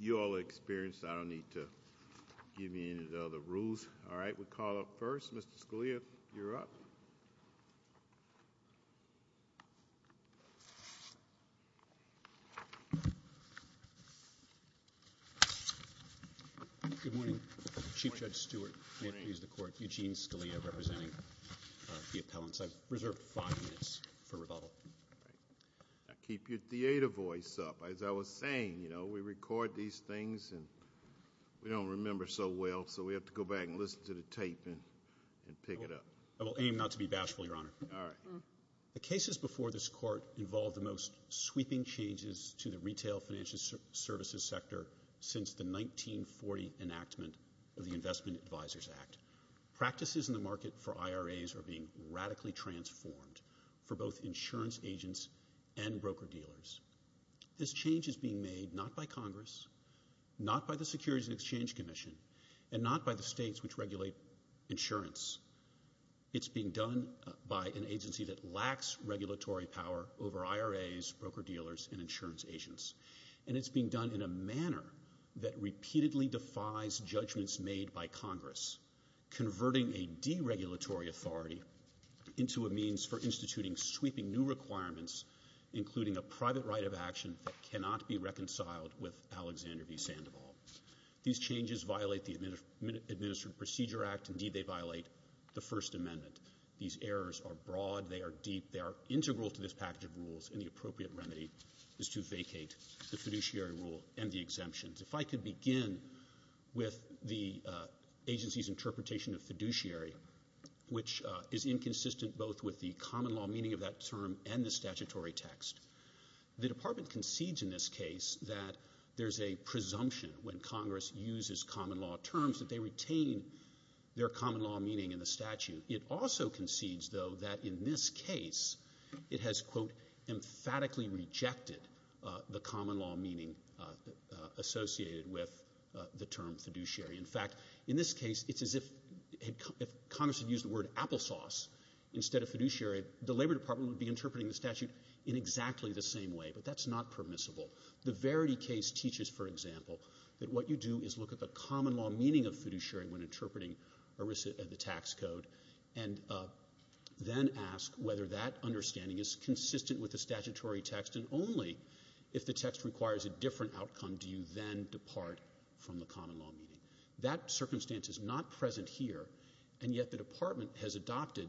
You all are experienced. I don't need to give you any other rules. All right, we'll call up first. Mr. Scalia, you're up. Good morning. Chief Judge Stewart. May it please the Court. Eugene Scalia representing the appellants. I've reserved five minutes for rebuttal. Now keep your theater voice up. As I was saying, you know, we record these things and we don't remember so well, so we have to go back and listen to the tape and pick it up. I will aim not to be bashful, Your Honor. All right. The cases before this Court involve the most sweeping changes to the retail financial services sector since the 1940 enactment of the Investment Advisors Act. Practices in the market for IRAs are being radically transformed for both insurance agents and broker-dealers. This change is being made not by Congress, not by the Securities and Exchange Commission, and not by the states which regulate insurance. It's being done by an agency that lacks regulatory power over IRAs, broker-dealers, and insurance agents. And it's being done in a manner that repeatedly defies judgments made by Congress, converting a deregulatory authority into a means for instituting sweeping new requirements, including a private right of action that cannot be reconciled with Alexander v. Sandoval. These changes violate the Administrative Procedure Act. Indeed, they violate the First Amendment. These errors are broad, they are deep, they are integral to this package of rules, and the appropriate remedy is to vacate the fiduciary rule and the exemptions. If I could begin with the agency's interpretation of fiduciary, which is inconsistent both with the common law meaning of that term and the statutory text. The Department concedes in this case that there's a presumption when Congress uses common law terms that they retain their common law meaning in the statute. It also concedes, though, that in this case it has, quote, emphatically rejected the common law meaning associated with the term fiduciary. In fact, in this case it's as if Congress had used the word applesauce instead of fiduciary. The Labor Department would be interpreting the statute in exactly the same way, but that's not permissible. The Verity case teaches, for example, that what you do is look at the common law meaning of fiduciary when interpreting the tax code and then ask whether that understanding is consistent with the statutory text, and only if the text requires a different outcome do you then depart from the common law meaning. That circumstance is not present here, and yet the Department has adopted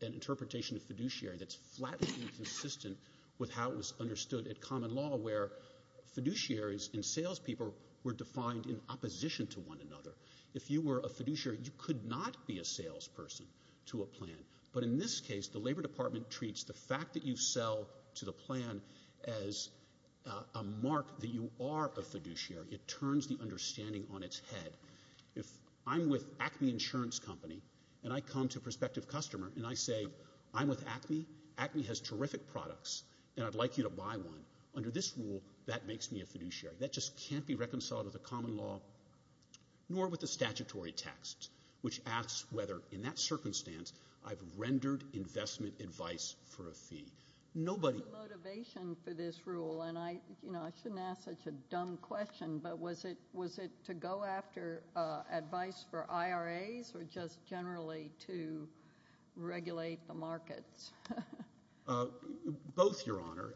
an interpretation of fiduciary that's flatly inconsistent with how it was understood at common law, where fiduciaries and salespeople were defined in opposition to one another. If you were a fiduciary, you could not be a salesperson to a plan, but in this case the Labor Department treats the fact that you sell to the plan as a mark that you are a fiduciary. It turns the understanding on its head. If I'm with Acme Insurance Company and I come to a prospective customer and I say, I'm with Acme, Acme has terrific products, and I'd like you to buy one. Under this rule, that makes me a fiduciary. That just can't be reconciled with the common law nor with the statutory text, which asks whether in that circumstance I've rendered investment advice for a fee. What was the motivation for this rule? I shouldn't ask such a dumb question, but was it to go after advice for IRAs or just generally to regulate the markets? Both, Your Honor.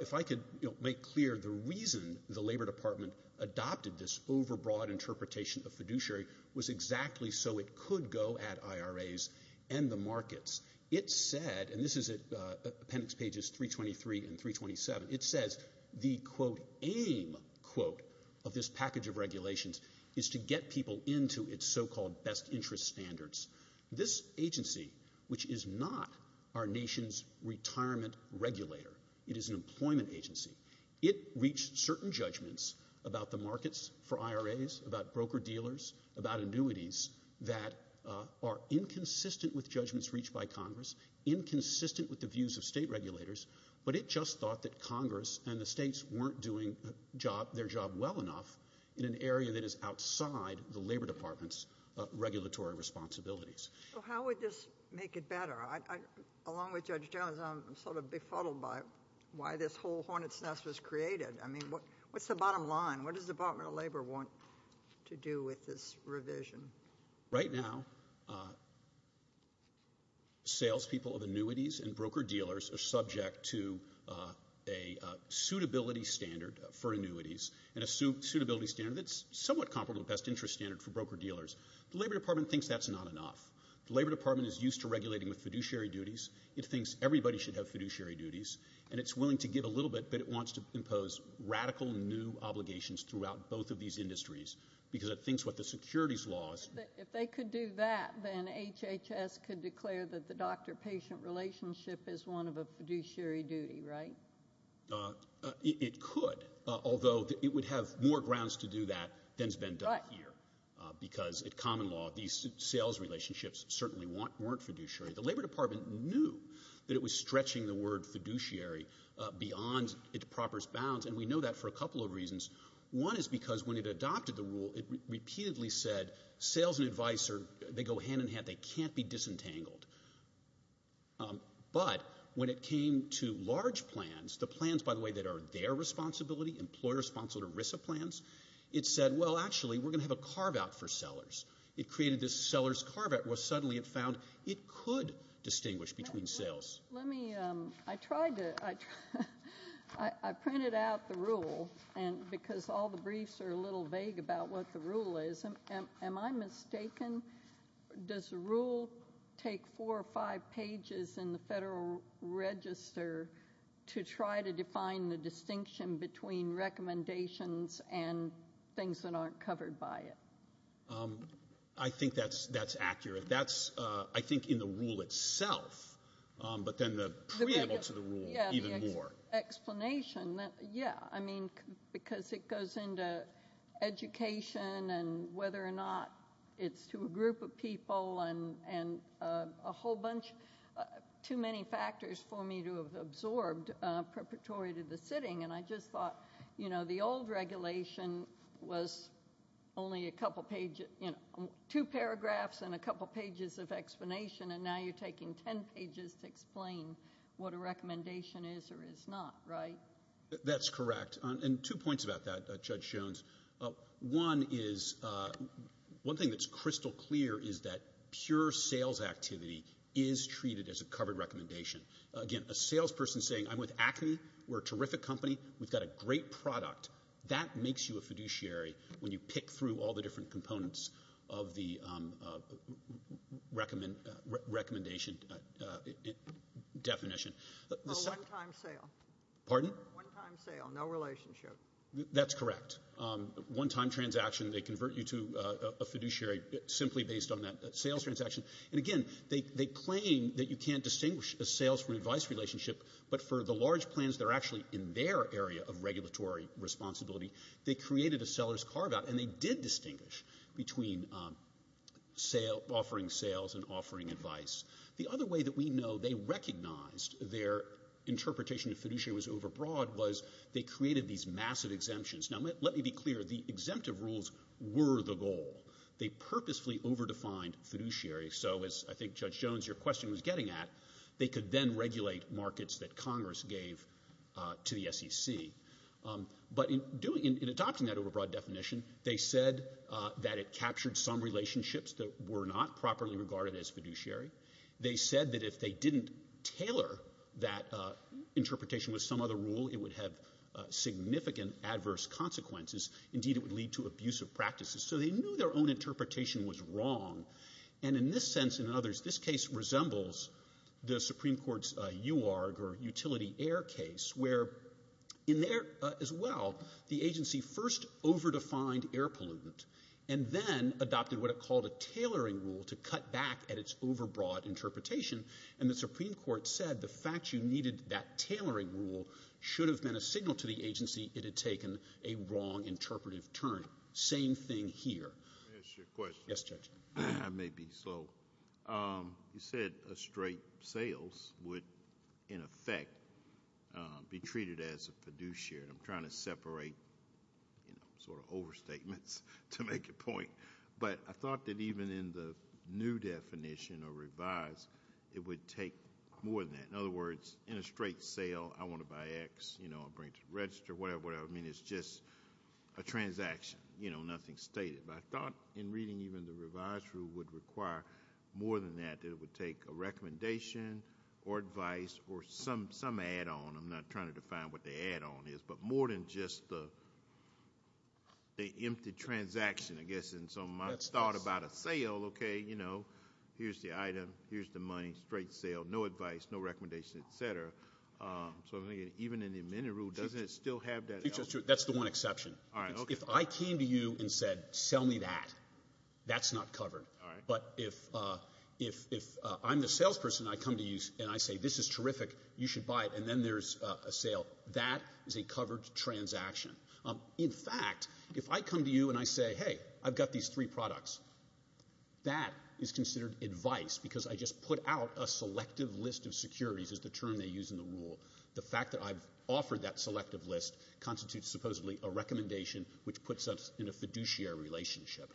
If I could make clear, the reason the Labor Department adopted this overbroad interpretation of fiduciary was exactly so it could go at IRAs and the markets. It said, and this is at appendix pages 323 and 327, it says the, quote, aim, quote, of this package of regulations is to get people into its so-called best interest standards. This agency, which is not our nation's retirement regulator, it is an employment agency, it reached certain judgments about the markets for IRAs, about broker-dealers, about annuities that are inconsistent with judgments reached by Congress, inconsistent with the views of state regulators, but it just thought that Congress and the states weren't doing their job well enough in an area that is outside the Labor Department's regulatory responsibilities. So how would this make it better? Along with Judge Jones, I'm sort of befuddled by why this whole hornet's nest was created. I mean, what's the bottom line? What does the Department of Labor want to do with this revision? Right now, salespeople of annuities and broker-dealers are subject to a suitability standard for annuities and a suitability standard that's somewhat comparable to the best interest standard for broker-dealers. The Labor Department thinks that's not enough. The Labor Department is used to regulating with fiduciary duties. It thinks everybody should have fiduciary duties, and it's willing to give a little bit, but it wants to impose radical new obligations throughout both of these industries because it thinks what the securities law is. If they could do that, then HHS could declare that the doctor-patient relationship is one of a fiduciary duty, right? It could, although it would have more grounds to do that than has been done here because at common law these sales relationships certainly weren't fiduciary. The Labor Department knew that it was stretching the word fiduciary beyond its proper bounds, and we know that for a couple of reasons. One is because when it adopted the rule, it repeatedly said sales and advice go hand-in-hand. They can't be disentangled. But when it came to large plans, the plans, by the way, that are their responsibility, employer-responsible ERISA plans, it said, well, actually, we're going to have a carve-out for sellers. It created this seller's carve-out where suddenly it found it could distinguish between sales. Let me – I tried to – I printed out the rule because all the briefs are a little vague about what the rule is. Am I mistaken? Does the rule take four or five pages in the Federal Register to try to define the distinction between recommendations and things that aren't covered by it? I think that's accurate. That's, I think, in the rule itself, but then the preamble to the rule even more. The explanation, yeah, I mean, because it goes into education and whether or not it's to a group of people and a whole bunch – too many factors for me to have absorbed preparatory to the sitting. And I just thought, you know, the old regulation was only a couple pages – two paragraphs and a couple pages of explanation, and now you're taking 10 pages to explain what a recommendation is or is not, right? That's correct. And two points about that, Judge Jones. One is – one thing that's crystal clear is that pure sales activity is treated as a covered recommendation. Again, a salesperson saying, I'm with Acme, we're a terrific company, we've got a great product, that makes you a fiduciary when you pick through all the different components of the recommendation definition. A one-time sale. Pardon? One-time sale, no relationship. That's correct. One-time transaction, they convert you to a fiduciary simply based on that sales transaction. And, again, they claim that you can't distinguish a sales from an advice relationship, but for the large plans that are actually in their area of regulatory responsibility, they created a seller's carve-out, and they did distinguish between offering sales and offering advice. The other way that we know they recognized their interpretation of fiduciary was overbroad was they created these massive exemptions. Now, let me be clear. The exemptive rules were the goal. They purposefully overdefined fiduciary so, as I think, Judge Jones, your question was getting at, they could then regulate markets that Congress gave to the SEC. But in adopting that overbroad definition, they said that it captured some relationships that were not properly regarded as fiduciary. They said that if they didn't tailor that interpretation with some other rule, it would have significant adverse consequences. Indeed, it would lead to abusive practices. So they knew their own interpretation was wrong. And in this sense and in others, this case resembles the Supreme Court's UARG or utility air case, where in there as well, the agency first overdefined air pollutant and then adopted what it called a tailoring rule to cut back at its overbroad interpretation. And the Supreme Court said the fact you needed that tailoring rule should have been a signal to the agency it had taken a wrong interpretive turn. Same thing here. Let me ask you a question. Yes, Judge. I may be slow. You said a straight sales would, in effect, be treated as a fiduciary. I'm trying to separate sort of overstatements to make a point. But I thought that even in the new definition or revised, it would take more than that. In other words, in a straight sale, I want to buy X. You know, I'll bring it to the register, whatever. I mean, it's just a transaction, you know, nothing stated. But I thought in reading even the revised rule would require more than that. It would take a recommendation or advice or some add-on. I'm not trying to define what the add-on is, but more than just the empty transaction. I guess in some, I thought about a sale. Okay, you know, here's the item. Here's the money. Straight sale. No advice, no recommendation, et cetera. So even in the amended rule, doesn't it still have that element? That's the one exception. All right, okay. If I came to you and said, sell me that, that's not covered. All right. But if I'm the salesperson, I come to you and I say, this is terrific, you should buy it, and then there's a sale, that is a covered transaction. In fact, if I come to you and I say, hey, I've got these three products, that is considered advice because I just put out a selective list of securities is the term they use in the rule. The fact that I've offered that selective list constitutes supposedly a recommendation, which puts us in a fiduciary relationship.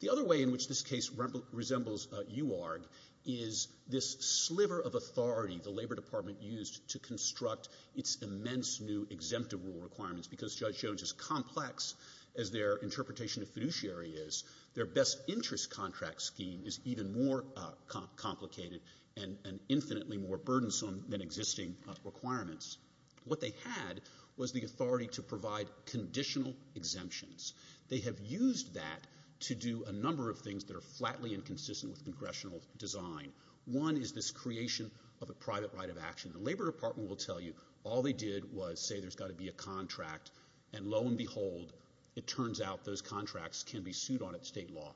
The other way in which this case resembles UARG is this sliver of authority the Labor Department used to construct its immense new exemptive rule requirements because Judge Jones, as complex as their interpretation of fiduciary is, their best interest contract scheme is even more complicated and infinitely more burdensome than existing requirements. What they had was the authority to provide conditional exemptions. They have used that to do a number of things that are flatly inconsistent with congressional design. One is this creation of a private right of action. The Labor Department will tell you all they did was say there's got to be a contract, and lo and behold, it turns out those contracts can be sued on at state law.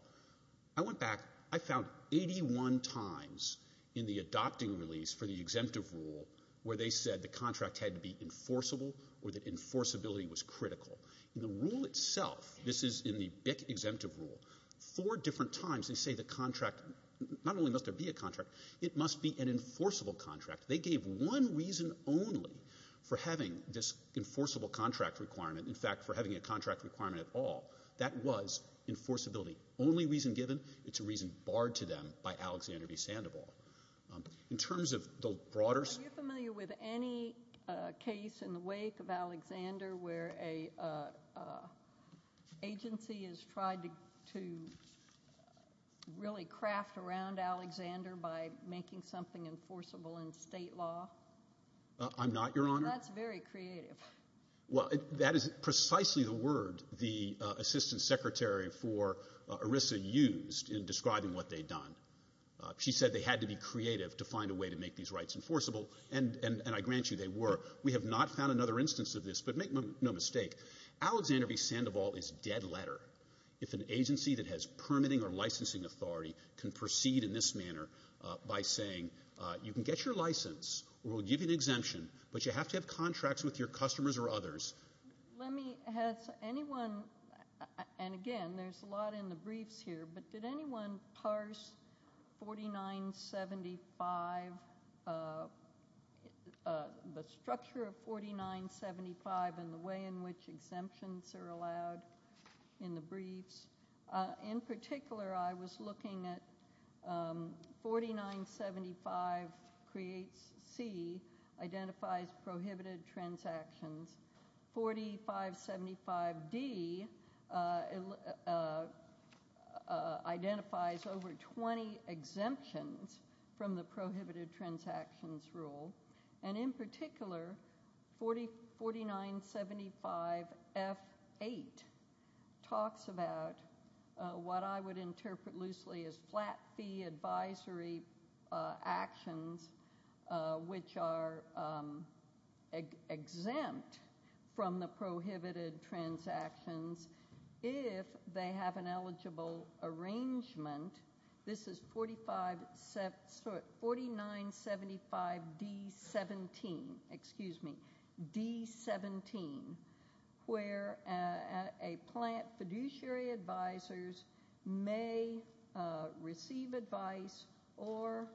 I went back. I found 81 times in the adopting release for the exemptive rule where they said the contract had to be enforceable or that enforceability was critical. In the rule itself, this is in the BIC exemptive rule, four different times they say the contract, not only must there be a contract, it must be an enforceable contract. They gave one reason only for having this enforceable contract requirement, in fact, for having a contract requirement at all. That was enforceability. The only reason given, it's a reason barred to them by Alexander v. Sandoval. In terms of the broader- Are you familiar with any case in the wake of Alexander where an agency has tried to really craft around Alexander by making something enforceable in state law? I'm not, Your Honor. That's very creative. Well, that is precisely the word the Assistant Secretary for ERISA used in describing what they'd done. She said they had to be creative to find a way to make these rights enforceable, and I grant you they were. We have not found another instance of this, but make no mistake, Alexander v. Sandoval is dead letter. If an agency that has permitting or licensing authority can proceed in this manner by saying, you can get your license or we'll give you an exemption, but you have to have contracts with your customers or others. Has anyone, and again, there's a lot in the briefs here, but did anyone parse 4975, the structure of 4975 and the way in which exemptions are allowed in the briefs? In particular, I was looking at 4975 creates C, identifies prohibited transactions. 4575D identifies over 20 exemptions from the prohibited transactions rule, and in particular, 4975F8 talks about what I would interpret loosely as flat fee advisory actions, which are exempt from the prohibited transactions if they have an eligible arrangement. This is 4975D17, where a plant fiduciary advisors may receive advice or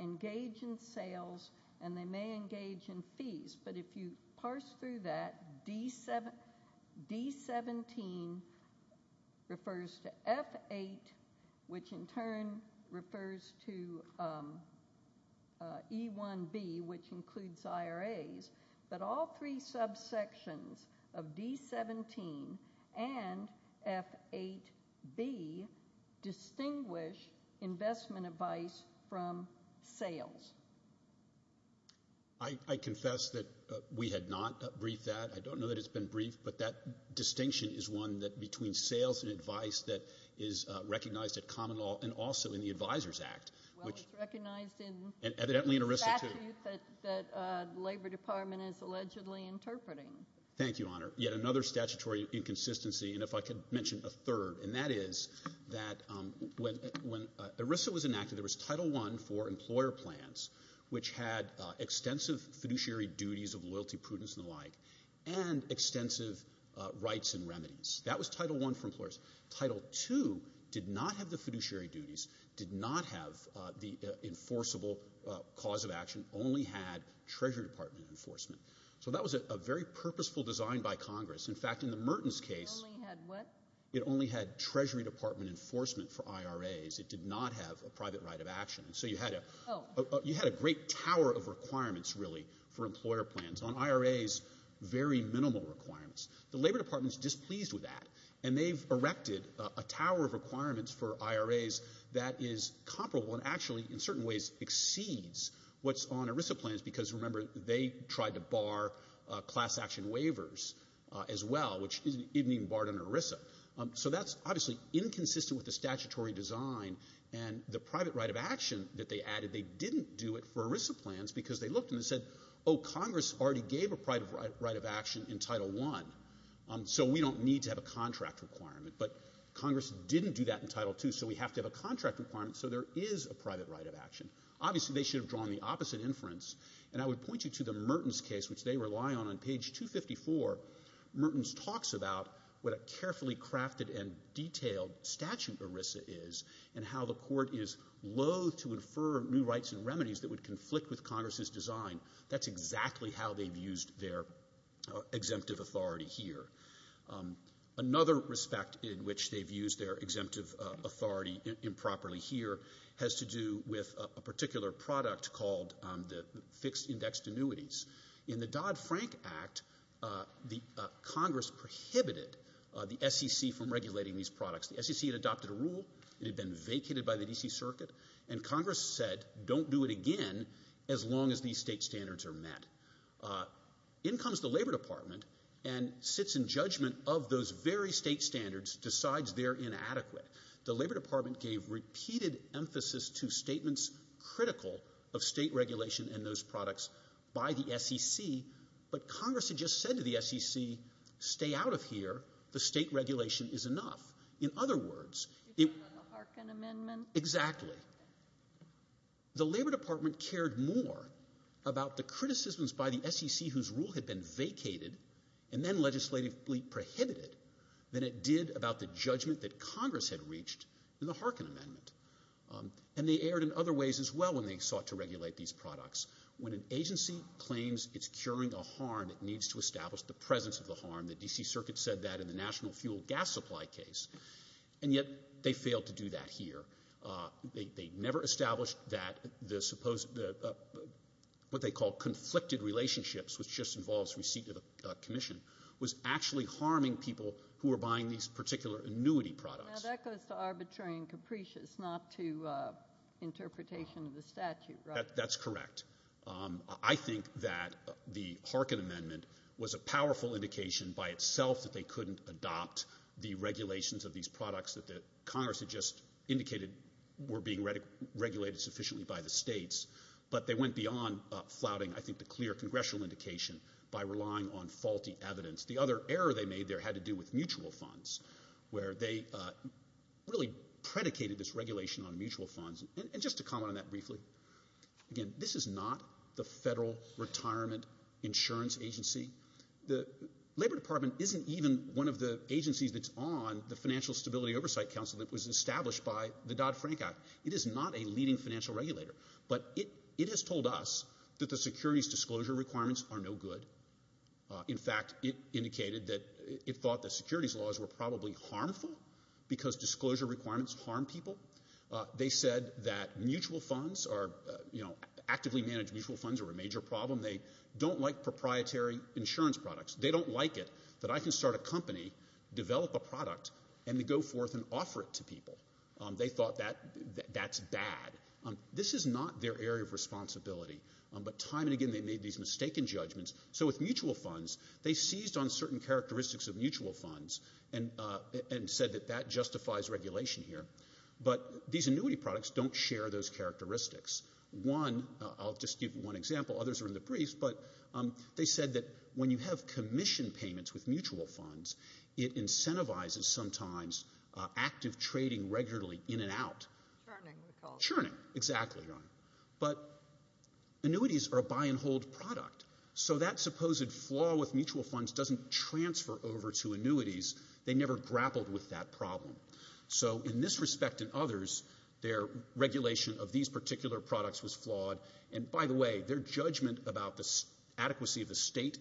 engage in sales, and they may engage in fees, but if you parse through that, D17 refers to F8, which in turn refers to E1B, which includes IRAs, but all three subsections of D17 and F8B distinguish investment advice from sales. I confess that we had not briefed that. I don't know that it's been briefed, but that distinction is one that between sales and advice that is recognized at common law and also in the Advisors Act. Well, it's recognized in the statute that the Labor Department is allegedly interpreting. Thank you, Honor. Yet another statutory inconsistency, and if I could mention a third, and that is that when ERISA was enacted, there was Title I for employer plans, which had extensive fiduciary duties of loyalty, prudence, and the like, and extensive rights and remedies. That was Title I for employers. Title II did not have the fiduciary duties, did not have the enforceable cause of action, only had Treasury Department enforcement. So that was a very purposeful design by Congress. In fact, in the Mertens case, it only had Treasury Department enforcement for IRAs. It did not have a private right of action. So you had a great tower of requirements, really, for employer plans on IRAs, very minimal requirements. The Labor Department is displeased with that, and they've erected a tower of requirements for IRAs that is comparable and actually in certain ways exceeds what's on ERISA plans because, remember, they tried to bar class action waivers as well, which isn't even barred under ERISA. So that's obviously inconsistent with the statutory design, and the private right of action that they added, they didn't do it for ERISA plans because they looked and they said, oh, Congress already gave a private right of action in Title I, so we don't need to have a contract requirement. But Congress didn't do that in Title II, so we have to have a contract requirement so there is a private right of action. Obviously, they should have drawn the opposite inference, and I would point you to the Mertens case, which they rely on. On page 254, Mertens talks about what a carefully crafted and detailed statute ERISA is and how the court is loathe to infer new rights and remedies that would conflict with Congress's design. That's exactly how they've used their exemptive authority here. Another respect in which they've used their exemptive authority improperly here has to do with a particular product called the fixed indexed annuities. In the Dodd-Frank Act, Congress prohibited the SEC from regulating these products. The SEC had adopted a rule, it had been vacated by the D.C. Circuit, and Congress said don't do it again as long as these state standards are met. In comes the Labor Department and sits in judgment of those very state standards, decides they're inadequate. The Labor Department gave repeated emphasis to statements critical of state regulation and those products by the SEC, but Congress had just said to the SEC, stay out of here, the state regulation is enough. In other words, the Labor Department cared more about the criticisms by the SEC whose rule had been vacated and then legislatively prohibited than it did about the judgment that Congress had reached in the Harkin Amendment. And they erred in other ways as well when they sought to regulate these products. When an agency claims it's curing a harm, it needs to establish the presence of the harm. The D.C. Circuit said that in the national fuel gas supply case, and yet they failed to do that here. They never established that what they call conflicted relationships, which just involves receipt of a commission, was actually harming people who were buying these particular annuity products. Now, that goes to arbitrary and capricious, not to interpretation of the statute, right? That's correct. I think that the Harkin Amendment was a powerful indication by itself that they couldn't adopt the regulations of these products that Congress had just indicated were being regulated sufficiently by the states, but they went beyond flouting, I think, the clear congressional indication by relying on faulty evidence. The other error they made there had to do with mutual funds, where they really predicated this regulation on mutual funds. And just to comment on that briefly, again, this is not the Federal Retirement Insurance Agency. The Labor Department isn't even one of the agencies that's on the Financial Stability Oversight Council that was established by the Dodd-Frank Act. It is not a leading financial regulator. But it has told us that the securities disclosure requirements are no good. In fact, it indicated that it thought the securities laws were probably harmful because disclosure requirements harm people. They said that mutual funds are, you know, actively managed mutual funds are a major problem. They don't like proprietary insurance products. They don't like it that I can start a company, develop a product, and then go forth and offer it to people. They thought that's bad. This is not their area of responsibility. But time and again they made these mistaken judgments. So with mutual funds, they seized on certain characteristics of mutual funds and said that that justifies regulation here. But these annuity products don't share those characteristics. One, I'll just give one example. Others are in the briefs. But they said that when you have commission payments with mutual funds, it incentivizes sometimes active trading regularly in and out. Churning, we call it. Churning, exactly. But annuities are a buy-and-hold product. So that supposed flaw with mutual funds doesn't transfer over to annuities. They never grappled with that problem. So in this respect and others, their regulation of these particular products was flawed. And by the way, their judgment about the adequacy of the state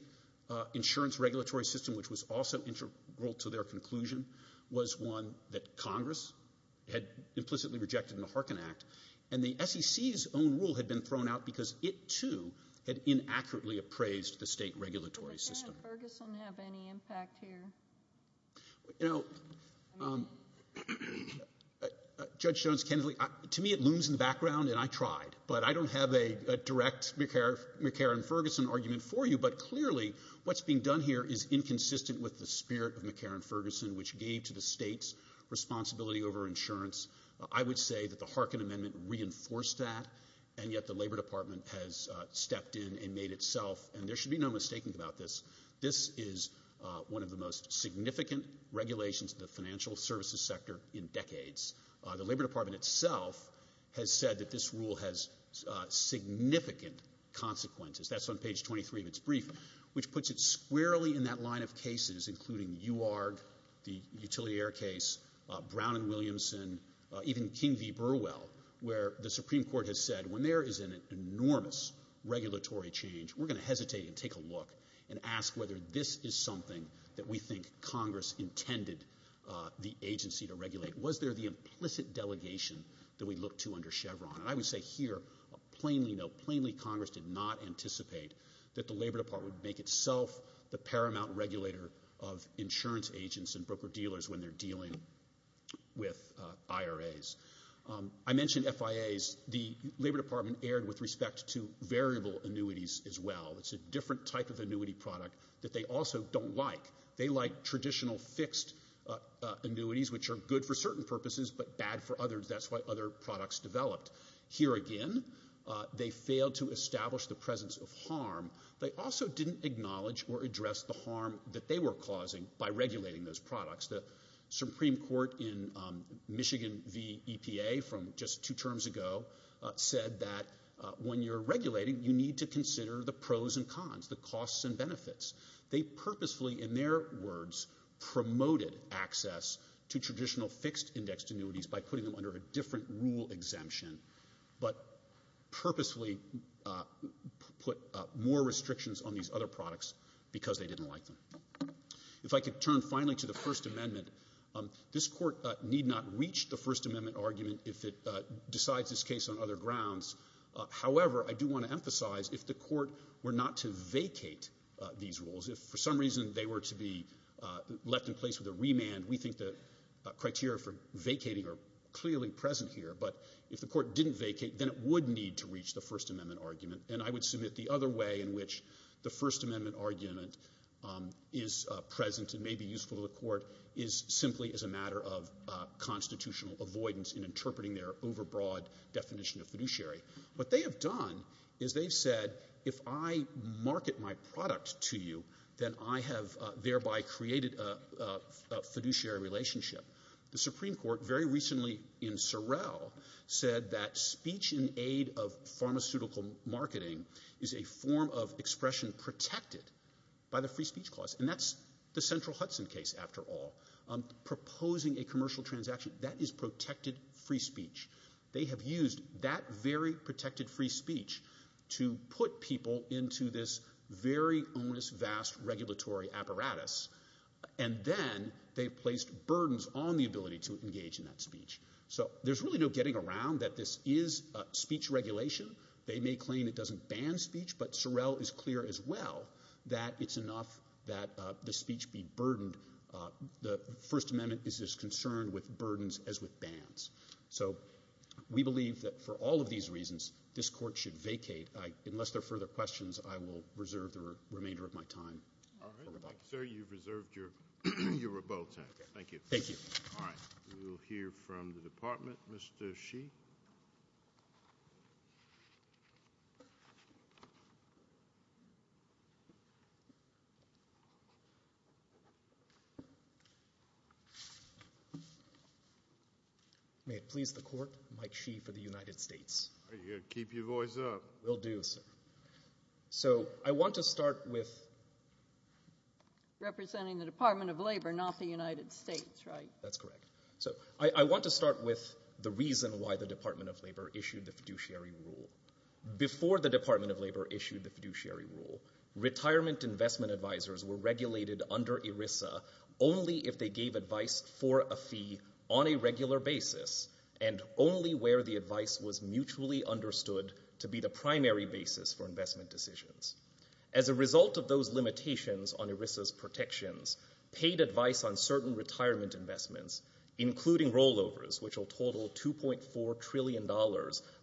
insurance regulatory system, which was also integral to their conclusion, was one that Congress had implicitly rejected in the Harkin Act. And the SEC's own rule had been thrown out because it, too, had inaccurately appraised the state regulatory system. Does McCarran-Ferguson have any impact here? You know, Judge Jones-Kennedy, to me it looms in the background, and I tried. But I don't have a direct McCarran-Ferguson argument for you. But clearly what's being done here is inconsistent with the spirit of McCarran-Ferguson, which gave to the states responsibility over insurance. I would say that the Harkin Amendment reinforced that, and yet the Labor Department has stepped in and made itself, and there should be no mistaking about this, this is one of the most significant regulations in the financial services sector in decades. The Labor Department itself has said that this rule has significant consequences. That's on page 23 of its brief, which puts it squarely in that line of cases, including UARG, the Utilier case, Brown and Williamson, even King v. Burwell, where the Supreme Court has said, when there is an enormous regulatory change, we're going to hesitate and take a look and ask whether this is something that we think Congress intended the agency to regulate. Was there the implicit delegation that we look to under Chevron? And I would say here, plainly no, plainly Congress did not anticipate that the Labor Department would make itself the paramount regulator of insurance agents and broker-dealers when they're dealing with IRAs. I mentioned FIAs. The Labor Department erred with respect to variable annuities as well. It's a different type of annuity product that they also don't like. They like traditional fixed annuities, which are good for certain purposes but bad for others. That's why other products developed. Here again, they failed to establish the presence of harm. They also didn't acknowledge or address the harm that they were causing by regulating those products. The Supreme Court in Michigan v. EPA from just two terms ago said that when you're regulating, you need to consider the pros and cons, the costs and benefits. They purposefully, in their words, promoted access to traditional fixed-indexed annuities by putting them under a different rule exemption but purposefully put more restrictions on these other products because they didn't like them. If I could turn finally to the First Amendment, this Court need not reach the First Amendment argument if it decides this case on other grounds. However, I do want to emphasize if the Court were not to vacate these rules, if for some reason they were to be left in place with a remand, we think the criteria for vacating are clearly present here, but if the Court didn't vacate, then it would need to reach the First Amendment argument. And I would submit the other way in which the First Amendment argument is present and may be useful to the Court is simply as a matter of constitutional avoidance in interpreting their overbroad definition of fiduciary. What they have done is they've said, if I market my product to you, then I have thereby created a fiduciary relationship. The Supreme Court very recently in Sorrell said that speech in aid of pharmaceutical marketing is a form of expression protected by the free speech clause. And that's the Central Hudson case, after all. Proposing a commercial transaction, that is protected free speech. They have used that very protected free speech to put people into this very onus-vast regulatory apparatus, and then they've placed burdens on the ability to engage in that speech. So there's really no getting around that this is speech regulation. They may claim it doesn't ban speech, but Sorrell is clear as well that it's enough that the speech be burdened. The First Amendment is as concerned with burdens as with bans. So we believe that for all of these reasons, this Court should vacate. Unless there are further questions, I will reserve the remainder of my time for rebuttal. All right. Sir, you've reserved your rebuttal time. Thank you. Thank you. All right. We will hear from the Department, Mr. Sheehy. May it please the Court, Mike Sheehy for the United States. Are you going to keep your voice up? Will do, sir. So I want to start with— Representing the Department of Labor, not the United States, right? That's correct. So I want to start with the reason why the Department of Labor issued the fiduciary rule. Before the Department of Labor issued the fiduciary rule, retirement investment advisors were regulated under ERISA only if they gave advice for a fee on a regular basis and only where the advice was mutually understood to be the primary basis for investment decisions. As a result of those limitations on ERISA's protections, paid advice on certain retirement investments, including rollovers, which will total $2.4 trillion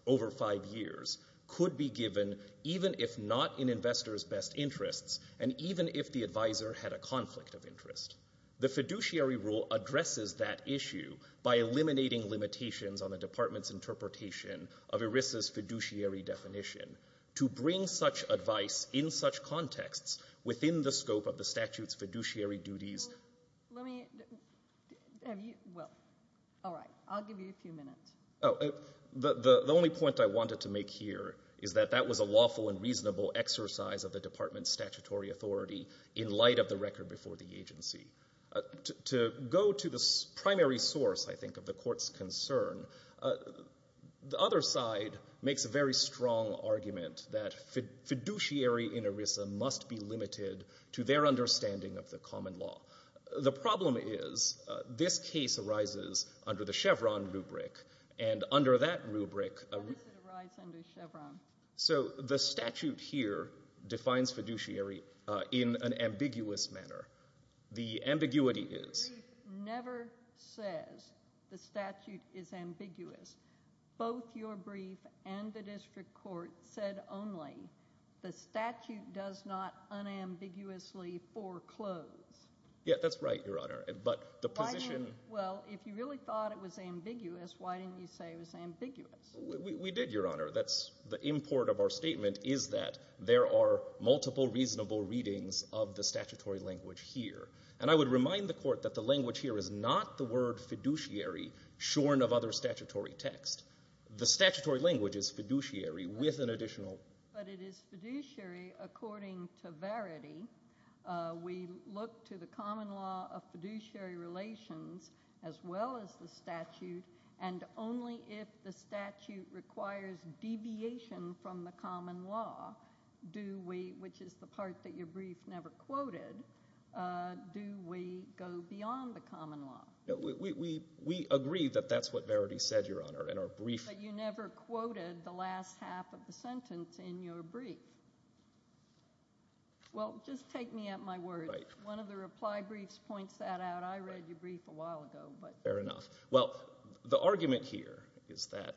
over five years, could be given even if not in investors' best interests and even if the advisor had a conflict of interest. The fiduciary rule addresses that issue by eliminating limitations on the Department's interpretation of ERISA's fiduciary definition. To bring such advice in such contexts within the scope of the statute's fiduciary duties— Let me—have you—well, all right. I'll give you a few minutes. The only point I wanted to make here is that that was a lawful and reasonable exercise of the Department's statutory authority in light of the record before the agency. To go to the primary source, I think, of the Court's concern, the other side makes a very strong argument that fiduciary in ERISA must be limited to their understanding of the common law. The problem is this case arises under the Chevron rubric, and under that rubric— How does it arise under Chevron? So the statute here defines fiduciary in an ambiguous manner. The ambiguity is— The brief never says the statute is ambiguous. Both your brief and the district court said only the statute does not unambiguously foreclose. Yeah, that's right, Your Honor, but the position— Well, if you really thought it was ambiguous, why didn't you say it was ambiguous? We did, Your Honor. The import of our statement is that there are multiple reasonable readings of the statutory language here. And I would remind the Court that the language here is not the word fiduciary shorn of other statutory text. The statutory language is fiduciary with an additional— But it is fiduciary according to verity. We look to the common law of fiduciary relations as well as the statute, and only if the statute requires deviation from the common law, which is the part that your brief never quoted, do we go beyond the common law. We agree that that's what verity said, Your Honor, in our brief. But you never quoted the last half of the sentence in your brief. Well, just take me at my word. One of the reply briefs points that out. I read your brief a while ago. Fair enough. Well, the argument here is that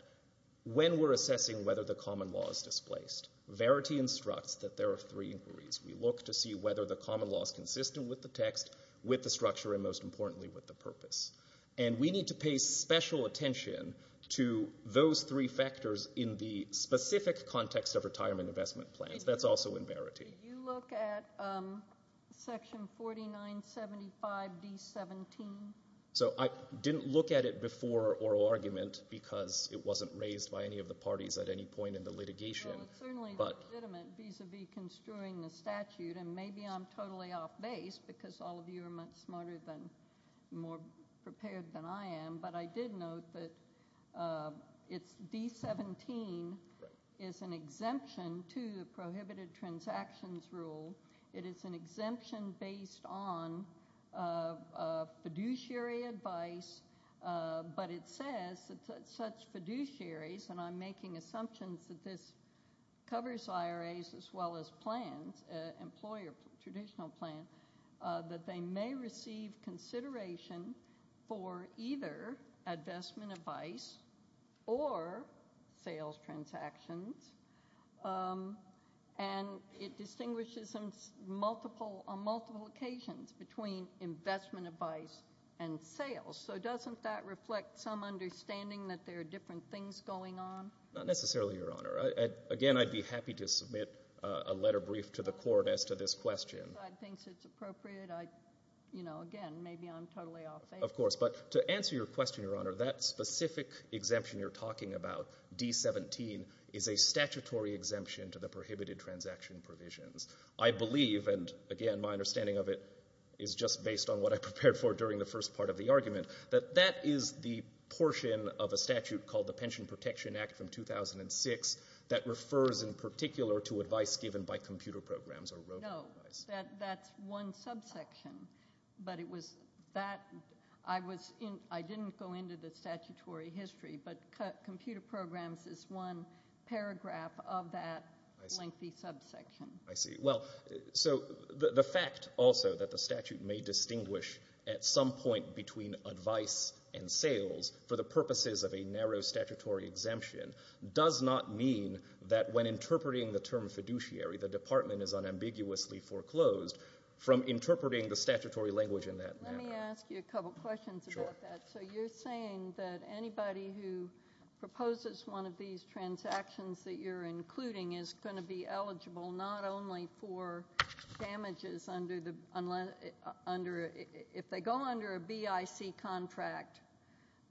when we're assessing whether the common law is displaced, verity instructs that there are three inquiries. We look to see whether the common law is consistent with the text, with the structure, and most importantly, with the purpose. And we need to pay special attention to those three factors in the specific context of retirement investment plans. That's also in verity. Did you look at Section 4975D17? So I didn't look at it before oral argument because it wasn't raised by any of the parties at any point in the litigation. Well, it's certainly legitimate vis-a-vis construing the statute, and maybe I'm totally off base because all of you are much smarter and more prepared than I am, but I did note that D17 is an exemption to the prohibited transactions rule. It is an exemption based on fiduciary advice, but it says that such fiduciaries, and I'm making assumptions that this covers IRAs as well as plans, employer traditional plans, that they may receive consideration for either investment advice or sales transactions, and it distinguishes on multiple occasions between investment advice and sales. So doesn't that reflect some understanding that there are different things going on? Not necessarily, Your Honor. Again, I'd be happy to submit a letter brief to the court as to this question. If the other side thinks it's appropriate, again, maybe I'm totally off base. Of course. But to answer your question, Your Honor, that specific exemption you're talking about, D17, is a statutory exemption to the prohibited transaction provisions. I believe, and again, my understanding of it is just based on what I prepared for during the first part of the argument, that that is the portion of a statute called the Pension Protection Act from 2006 No, that's one subsection, but it was that. I didn't go into the statutory history, but computer programs is one paragraph of that lengthy subsection. I see. Well, so the fact also that the statute may distinguish at some point between advice and sales for the purposes of a narrow statutory exemption does not mean that when interpreting the term fiduciary, the department is unambiguously foreclosed from interpreting the statutory language in that manner. Let me ask you a couple questions about that. Sure. So you're saying that anybody who proposes one of these transactions that you're including is going to be eligible not only for damages under the ‑‑ if they go under a BIC contract,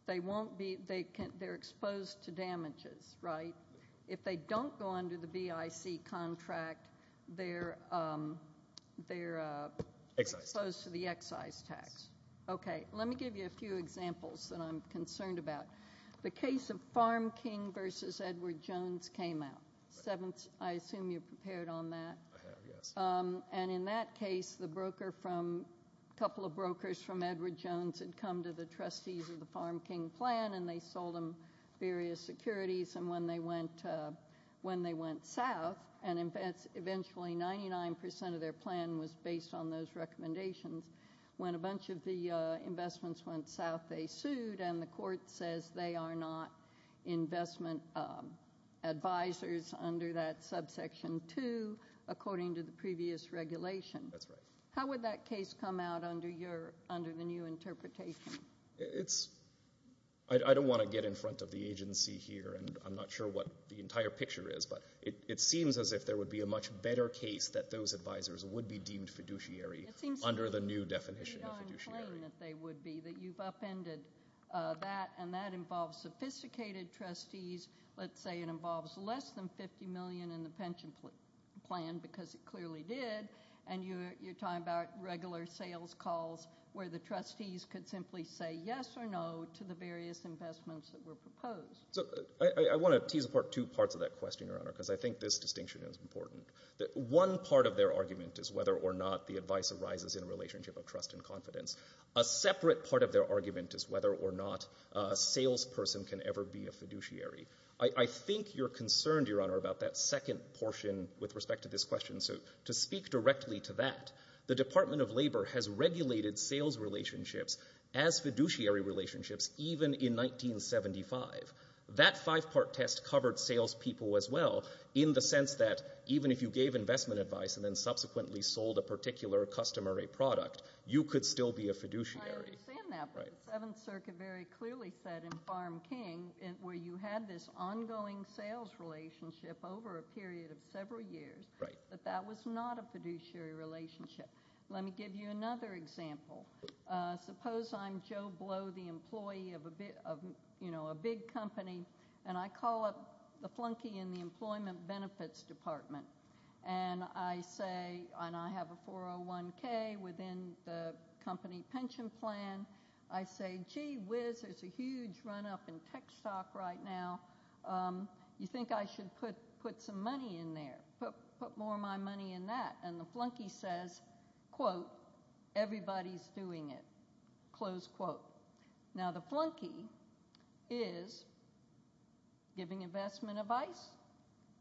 they're exposed to damages, right? If they don't go under the BIC contract, they're exposed to the excise tax. Okay. Let me give you a few examples that I'm concerned about. The case of Farm King versus Edward Jones came out. I assume you're prepared on that. I am, yes. And in that case, a couple of brokers from Edward Jones had come to the trustees of the Farm King plan and they sold them various securities, and when they went south, and eventually 99% of their plan was based on those recommendations, when a bunch of the investments went south they sued and the court says they are not investment advisors under that subsection 2, according to the previous regulation. That's right. How would that case come out under the new interpretation? I don't want to get in front of the agency here, and I'm not sure what the entire picture is, but it seems as if there would be a much better case that those advisors would be deemed fiduciary under the new definition of fiduciary. It seems to me that they would be, that you've upended that, and that involves sophisticated trustees. Let's say it involves less than $50 million in the pension plan because it clearly did, and you're talking about regular sales calls where the trustees could simply say yes or no to the various investments that were proposed. I want to tease apart two parts of that question, Your Honor, because I think this distinction is important. One part of their argument is whether or not the advice arises in a relationship of trust and confidence. A separate part of their argument is whether or not a salesperson can ever be a fiduciary. I think you're concerned, Your Honor, about that second portion with respect to this question. To speak directly to that, the Department of Labor has regulated sales relationships as fiduciary relationships even in 1975. That five-part test covered salespeople as well in the sense that even if you gave investment advice and then subsequently sold a particular customer a product, you could still be a fiduciary. I understand that, but the Seventh Circuit very clearly said in Farm King where you had this ongoing sales relationship over a period of several years that that was not a fiduciary relationship. Let me give you another example. Suppose I'm Joe Blow, the employee of a big company, and I call up the flunky in the Employment Benefits Department, and I have a 401K within the company pension plan. I say, gee whiz, there's a huge run-up in tech stock right now. You think I should put some money in there, put more of my money in that? And the flunky says, quote, everybody's doing it, close quote. Now the flunky is giving investment advice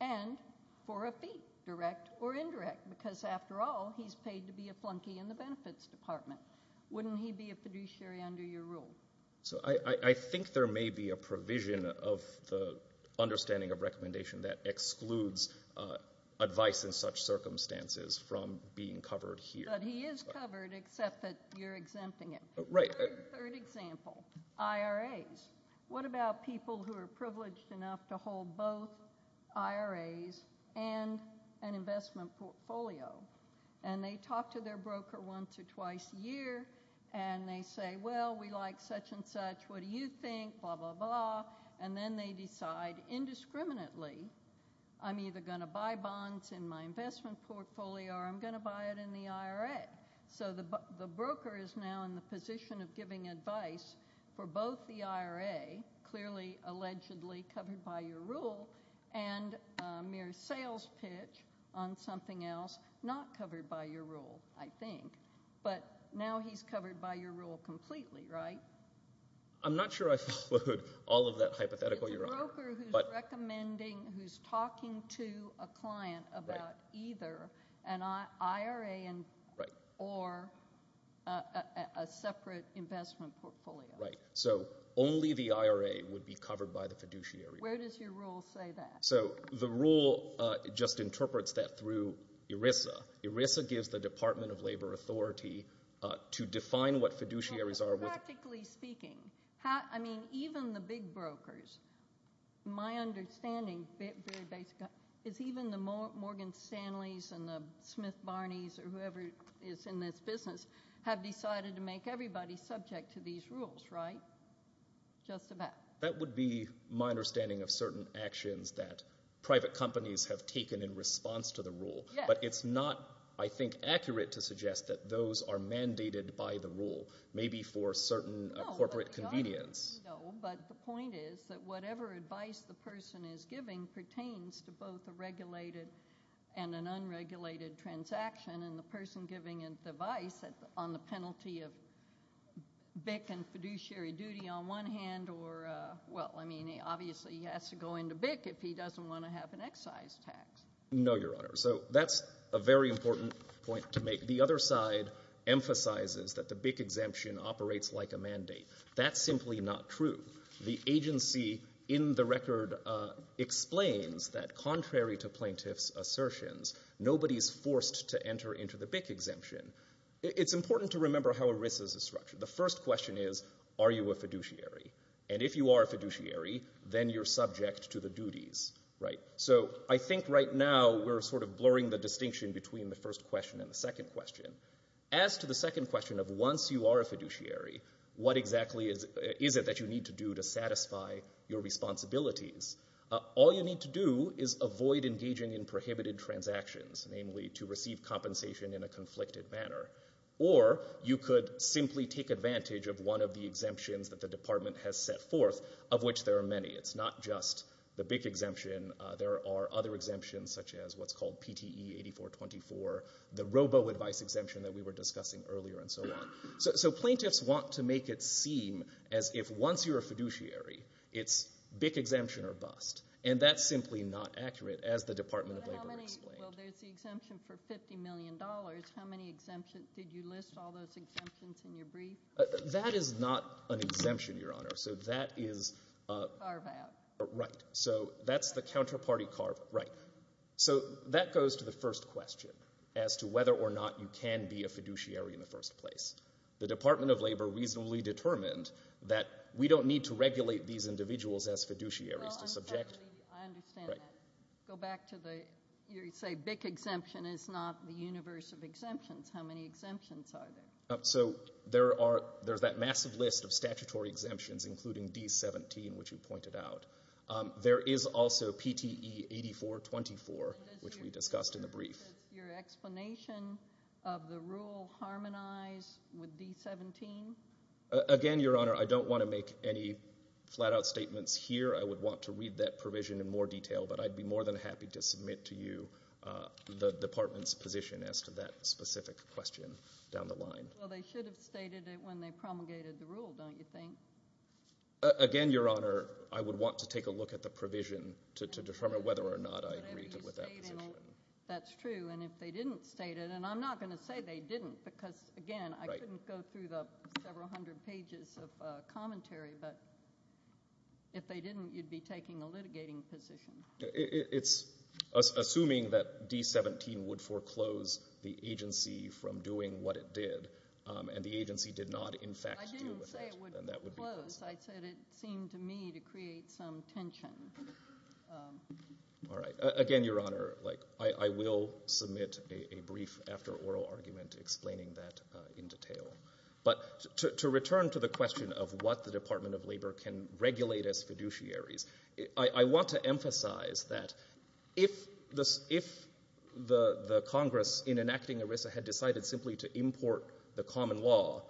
and for a fee, direct or indirect, because after all he's paid to be a flunky in the Benefits Department. Wouldn't he be a fiduciary under your rule? So I think there may be a provision of the understanding of recommendation that excludes advice in such circumstances from being covered here. But he is covered except that you're exempting him. Right. Third example, IRAs. What about people who are privileged enough to hold both IRAs and an investment portfolio? And they talk to their broker once or twice a year, and they say, well, we like such and such. What do you think? Blah, blah, blah. And then they decide indiscriminately I'm either going to buy bonds in my investment portfolio or I'm going to buy it in the IRA. So the broker is now in the position of giving advice for both the IRA, clearly allegedly covered by your rule, but now he's covered by your rule completely, right? I'm not sure I followed all of that hypothetical, Your Honor. It's a broker who's recommending, who's talking to a client about either an IRA or a separate investment portfolio. Right. So only the IRA would be covered by the fiduciary. Where does your rule say that? So the rule just interprets that through ERISA. ERISA gives the Department of Labor authority to define what fiduciaries are. Practically speaking, I mean, even the big brokers, my understanding, is even the Morgan Stanleys and the Smith Barneys or whoever is in this business have decided to make everybody subject to these rules, right? Just about. That would be my understanding of certain actions that private companies have taken in response to the rule. But it's not, I think, accurate to suggest that those are mandated by the rule, maybe for certain corporate convenience. No, but the point is that whatever advice the person is giving pertains to both a regulated and an unregulated transaction. And the person giving advice on the penalty of BIC and fiduciary duty on one hand, or, well, I mean, obviously he has to go into BIC if he doesn't want to have an excise tax. No, Your Honor. So that's a very important point to make. The other side emphasizes that the BIC exemption operates like a mandate. That's simply not true. The agency in the record explains that contrary to plaintiff's assertions, nobody is forced to enter into the BIC exemption. It's important to remember how ERISA is structured. The first question is, are you a fiduciary? And if you are a fiduciary, then you're subject to the duties, right? So I think right now we're sort of blurring the distinction between the first question and the second question. As to the second question of once you are a fiduciary, what exactly is it that you need to do to satisfy your responsibilities, all you need to do is avoid engaging in prohibited transactions, namely to receive compensation in a conflicted manner. Or you could simply take advantage of one of the exemptions that the department has set forth, of which there are many. It's not just the BIC exemption. There are other exemptions, such as what's called PTE 8424, the robo-advice exemption that we were discussing earlier, and so on. So plaintiffs want to make it seem as if once you're a fiduciary, it's BIC exemption or bust. And that's simply not accurate, as the Department of Labor explained. Well, there's the exemption for $50 million. How many exemptions? Did you list all those exemptions in your brief? That is not an exemption, Your Honor. Carve out. Right. So that's the counterparty carve. Right. So that goes to the first question as to whether or not you can be a fiduciary in the first place. The Department of Labor reasonably determined that we don't need to regulate these individuals as fiduciaries to subject. I understand that. Go back to the, you say BIC exemption is not the universe of exemptions. How many exemptions are there? So there's that massive list of statutory exemptions, including D17, which you pointed out. There is also PTE 8424, which we discussed in the brief. Does your explanation of the rule harmonize with D17? Again, Your Honor, I don't want to make any flat-out statements here. I would want to read that provision in more detail, but I'd be more than happy to submit to you the Department's position as to that specific question down the line. Well, they should have stated it when they promulgated the rule, don't you think? Again, Your Honor, I would want to take a look at the provision to determine whether or not I agree with that position. That's true, and if they didn't state it, and I'm not going to say they didn't, because, again, I couldn't go through the several hundred pages of commentary, but if they didn't, you'd be taking a litigating position. It's assuming that D17 would foreclose the agency from doing what it did, and the agency did not, in fact, do that. I didn't say it would foreclose. I said it seemed to me to create some tension. All right. Again, Your Honor, I will submit a brief after-oral argument explaining that in detail. But to return to the question of what the Department of Labor can regulate as fiduciaries, I want to emphasize that if the Congress, in enacting ERISA, had decided simply to import the common law,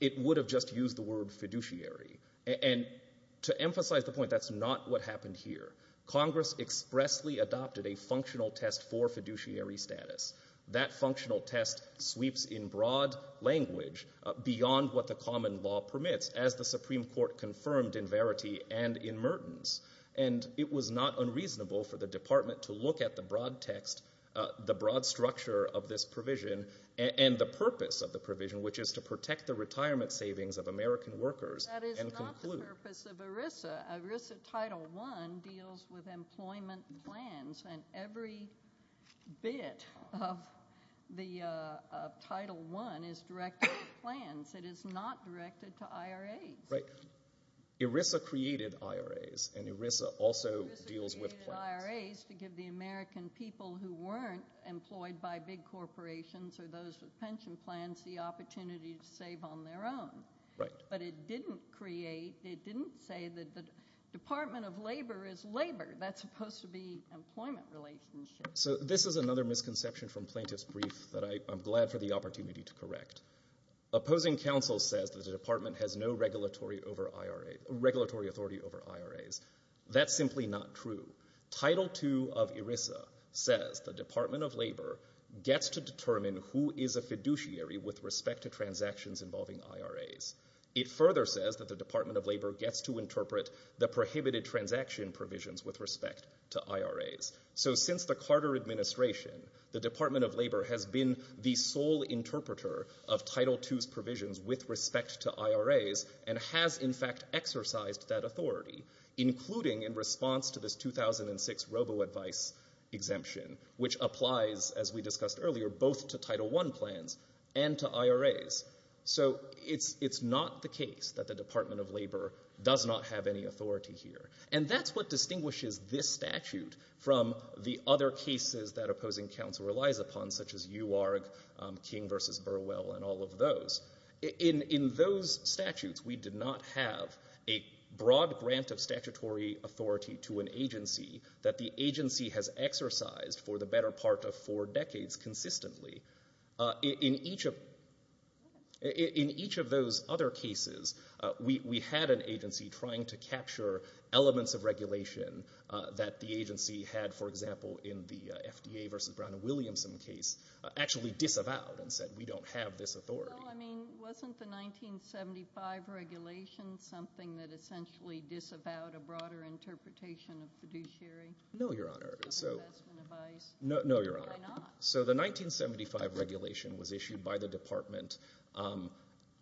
it would have just used the word fiduciary. And to emphasize the point, that's not what happened here. Congress expressly adopted a functional test for fiduciary status. That functional test sweeps in broad language beyond what the common law permits, as the Supreme Court confirmed in Verity and in Mertens. And it was not unreasonable for the Department to look at the broad text, the broad structure of this provision, and the purpose of the provision, which is to protect the retirement savings of American workers and conclude. That is not the purpose of ERISA. ERISA Title I deals with employment plans, and every bit of the Title I is directed to plans. It is not directed to IRAs. Right. ERISA created IRAs, and ERISA also deals with plans. ERISA created IRAs to give the American people who weren't employed by big corporations or those with pension plans the opportunity to save on their own. Right. But it didn't create, it didn't say that the Department of Labor is labor. That's supposed to be employment relationships. So this is another misconception from plaintiff's brief that I'm glad for the opportunity to correct. Opposing counsel says that the Department has no regulatory authority over IRAs. That's simply not true. Title II of ERISA says the Department of Labor gets to determine who is a fiduciary with respect to transactions involving IRAs. It further says that the Department of Labor gets to interpret the prohibited transaction provisions with respect to IRAs. So since the Carter administration, the Department of Labor has been the sole interpreter of Title II's provisions with respect to IRAs and has, in fact, exercised that authority, including in response to this 2006 robo-advice exemption, which applies, as we discussed earlier, both to Title I plans and to IRAs. So it's not the case that the Department of Labor does not have any authority here. And that's what distinguishes this statute from the other cases that opposing counsel relies upon, such as UARG, King v. Burwell, and all of those. In those statutes, we did not have a broad grant of statutory authority to an agency that the agency has exercised for the better part of four decades consistently. In each of those other cases, we had an agency trying to capture elements of regulation that the agency had, for example, in the FDA v. Brown and Williamson case, actually disavowed and said, we don't have this authority. Well, I mean, wasn't the 1975 regulation something that essentially disavowed a broader interpretation of fiduciary? No, Your Honor. Investment advice. No, Your Honor. Why not? So the 1975 regulation was issued by the department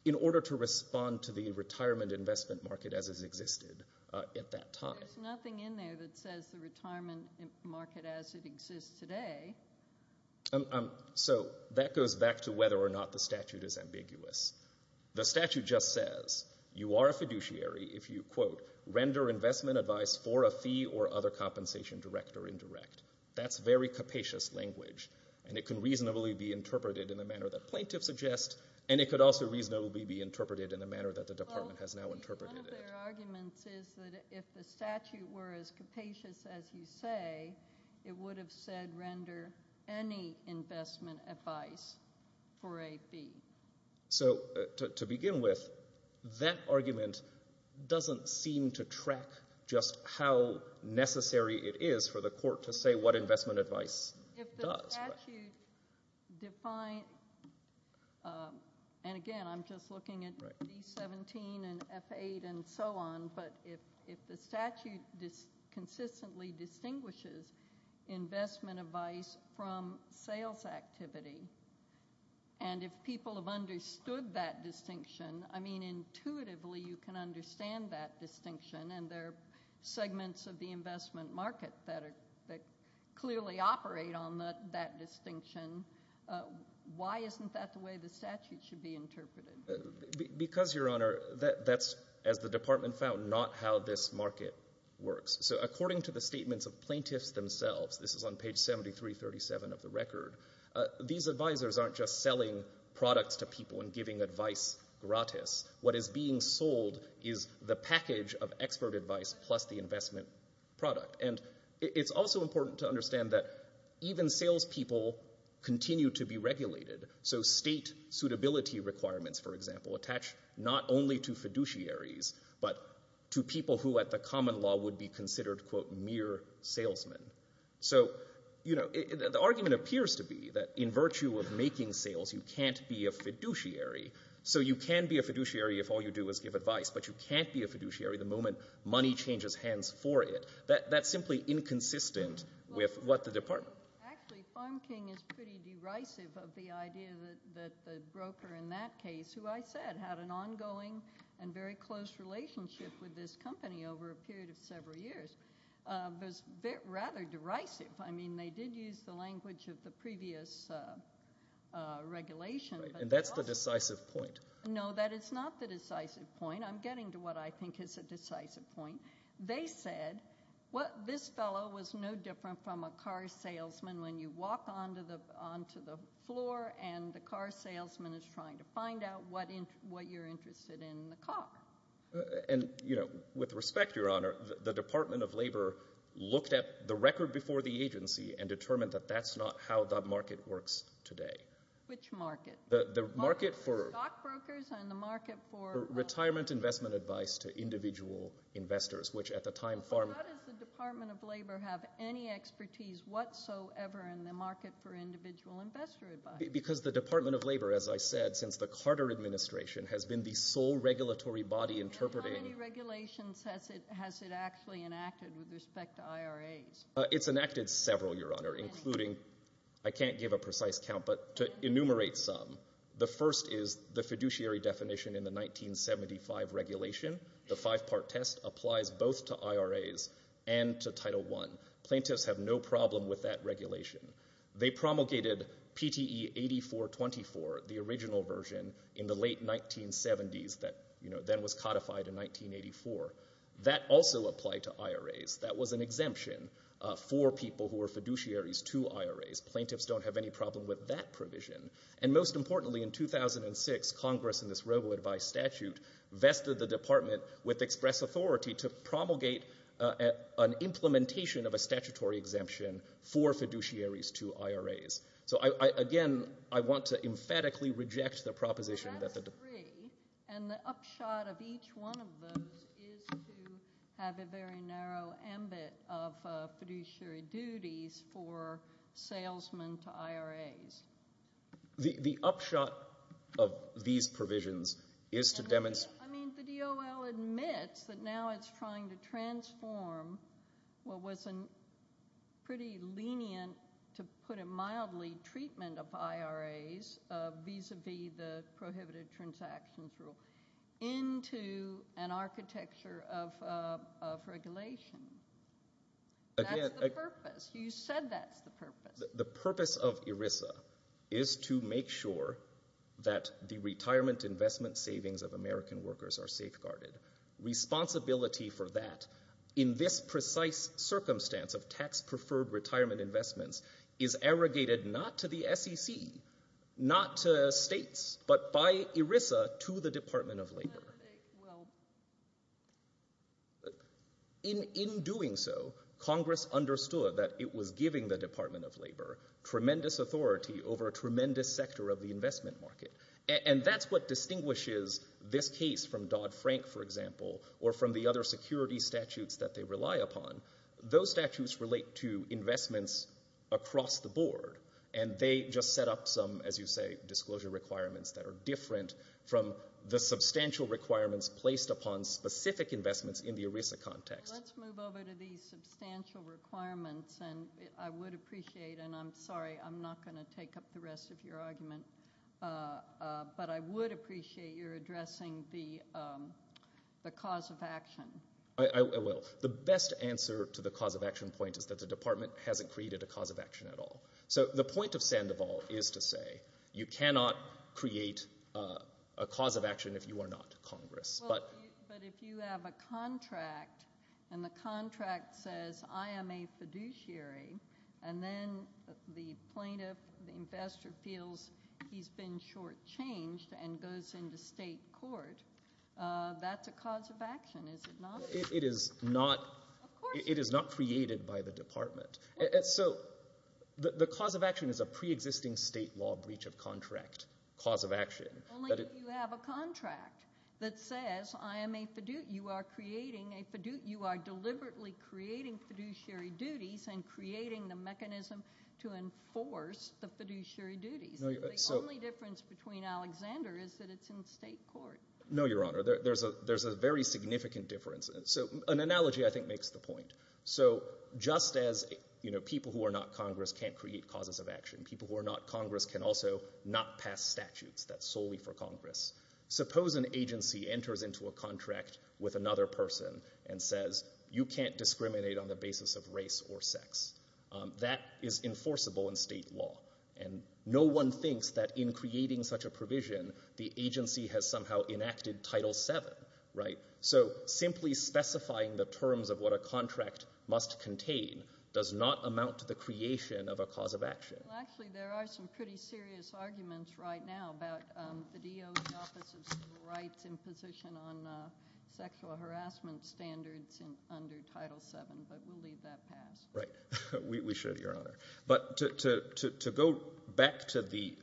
in order to respond to the retirement investment market as it existed at that time. There's nothing in there that says the retirement market as it exists today. So that goes back to whether or not the statute is ambiguous. The statute just says you are a fiduciary if you, quote, render investment advice for a fee or other compensation direct or indirect. That's very capacious language, and it can reasonably be interpreted in the manner that plaintiffs suggest, and it could also reasonably be interpreted in the manner that the department has now interpreted it. One of their arguments is that if the statute were as capacious as you say, it would have said render any investment advice for a fee. So to begin with, that argument doesn't seem to track just how necessary it is for the court to say what investment advice does. Again, I'm just looking at D17 and F8 and so on, but if the statute consistently distinguishes investment advice from sales activity and if people have understood that distinction, I mean, intuitively you can understand that distinction and there are segments of the investment market that clearly operate on that distinction. Why isn't that the way the statute should be interpreted? Because, Your Honor, that's, as the department found, not how this market works. So according to the statements of plaintiffs themselves, this is on page 7337 of the record, these advisors aren't just selling products to people and giving advice gratis. What is being sold is the package of expert advice plus the investment product. And it's also important to understand that even salespeople continue to be regulated. So state suitability requirements, for example, attach not only to fiduciaries, but to people who at the common law would be considered, quote, mere salesmen. So the argument appears to be that in virtue of making sales you can't be a fiduciary, so you can be a fiduciary if all you do is give advice, but you can't be a fiduciary the moment money changes hands for it. That's simply inconsistent with what the department. Actually, Farm King is pretty derisive of the idea that the broker in that case, who I said had an ongoing and very close relationship with this company over a period of several years, was rather derisive. I mean, they did use the language of the previous regulation. And that's the decisive point. No, that is not the decisive point. I'm getting to what I think is a decisive point. They said this fellow was no different from a car salesman when you walk onto the floor and the car salesman is trying to find out what you're interested in in the car. And, you know, with respect, Your Honor, the Department of Labor looked at the record before the agency and determined that that's not how the market works today. Which market? The market for retirement investment advice to individual investors, which at the time Farm King How does the Department of Labor have any expertise whatsoever in the market for individual investor advice? Because the Department of Labor, as I said, since the Carter administration has been the sole regulatory body interpreting And how many regulations has it actually enacted with respect to IRAs? It's enacted several, Your Honor, including, I can't give a precise count, but to enumerate some. The first is the fiduciary definition in the 1975 regulation. The five-part test applies both to IRAs and to Title I. Plaintiffs have no problem with that regulation. They promulgated PTE 8424, the original version, in the late 1970s that, you know, then was codified in 1984. That also applied to IRAs. That was an exemption for people who were fiduciaries to IRAs. Plaintiffs don't have any problem with that provision. And most importantly, in 2006, Congress in this robo-advice statute vested the department with express authority to promulgate an implementation of a statutory exemption for fiduciaries to IRAs. So, again, I want to emphatically reject the proposition that the But that's three, and the upshot of each one of those is to have a very narrow ambit of fiduciary duties for salesmen to IRAs. The upshot of these provisions is to demonstrate... I mean, the DOL admits that now it's trying to transform what was a pretty lenient, to put it mildly, treatment of IRAs, vis-à-vis the prohibited transactions rule, into an architecture of regulation. That's the purpose. You said that's the purpose. The purpose of ERISA is to make sure that the retirement investment savings of American workers are safeguarded. Responsibility for that, in this precise circumstance of tax-preferred retirement investments, is arrogated not to the SEC, not to states, but by ERISA to the Department of Labor. In doing so, Congress understood that it was giving the Department of Labor tremendous authority over a tremendous sector of the investment market. And that's what distinguishes this case from Dodd-Frank, for example, or from the other security statutes that they rely upon. Those statutes relate to investments across the board, and they just set up some, as you say, disclosure requirements that are different from the substantial requirements placed upon specific investments in the ERISA context. Let's move over to these substantial requirements, and I would appreciate, and I'm sorry, I'm not going to take up the rest of your argument, but I would appreciate your addressing the cause of action. I will. The best answer to the cause of action point is that the department hasn't created a cause of action at all. So the point of Sandoval is to say, you cannot create a cause of action if you are not Congress. But if you have a contract, and the contract says, I am a fiduciary, and then the plaintiff, the investor, feels he's been shortchanged and goes into state court, that's a cause of action, is it not? It is not created by the department. So the cause of action is a preexisting state law breach of contract cause of action. Only if you have a contract that says, you are deliberately creating fiduciary duties and creating the mechanism to enforce the fiduciary duties. The only difference between Alexander is that it's in state court. No, Your Honor, there's a very significant difference. So an analogy, I think, makes the point. So just as people who are not Congress can't create causes of action, people who are not Congress can also not pass statutes. That's solely for Congress. Suppose an agency enters into a contract with another person and says, you can't discriminate on the basis of race or sex. That is enforceable in state law. And no one thinks that in creating such a provision, the agency has somehow enacted Title VII. So simply specifying the terms of what a contract must contain does not amount to the creation of a cause of action. Actually, there are some pretty serious arguments right now about the DO's Office of Civil Rights in position on sexual harassment standards under Title VII. But we'll leave that past. Right. We should, Your Honor. But to go back to the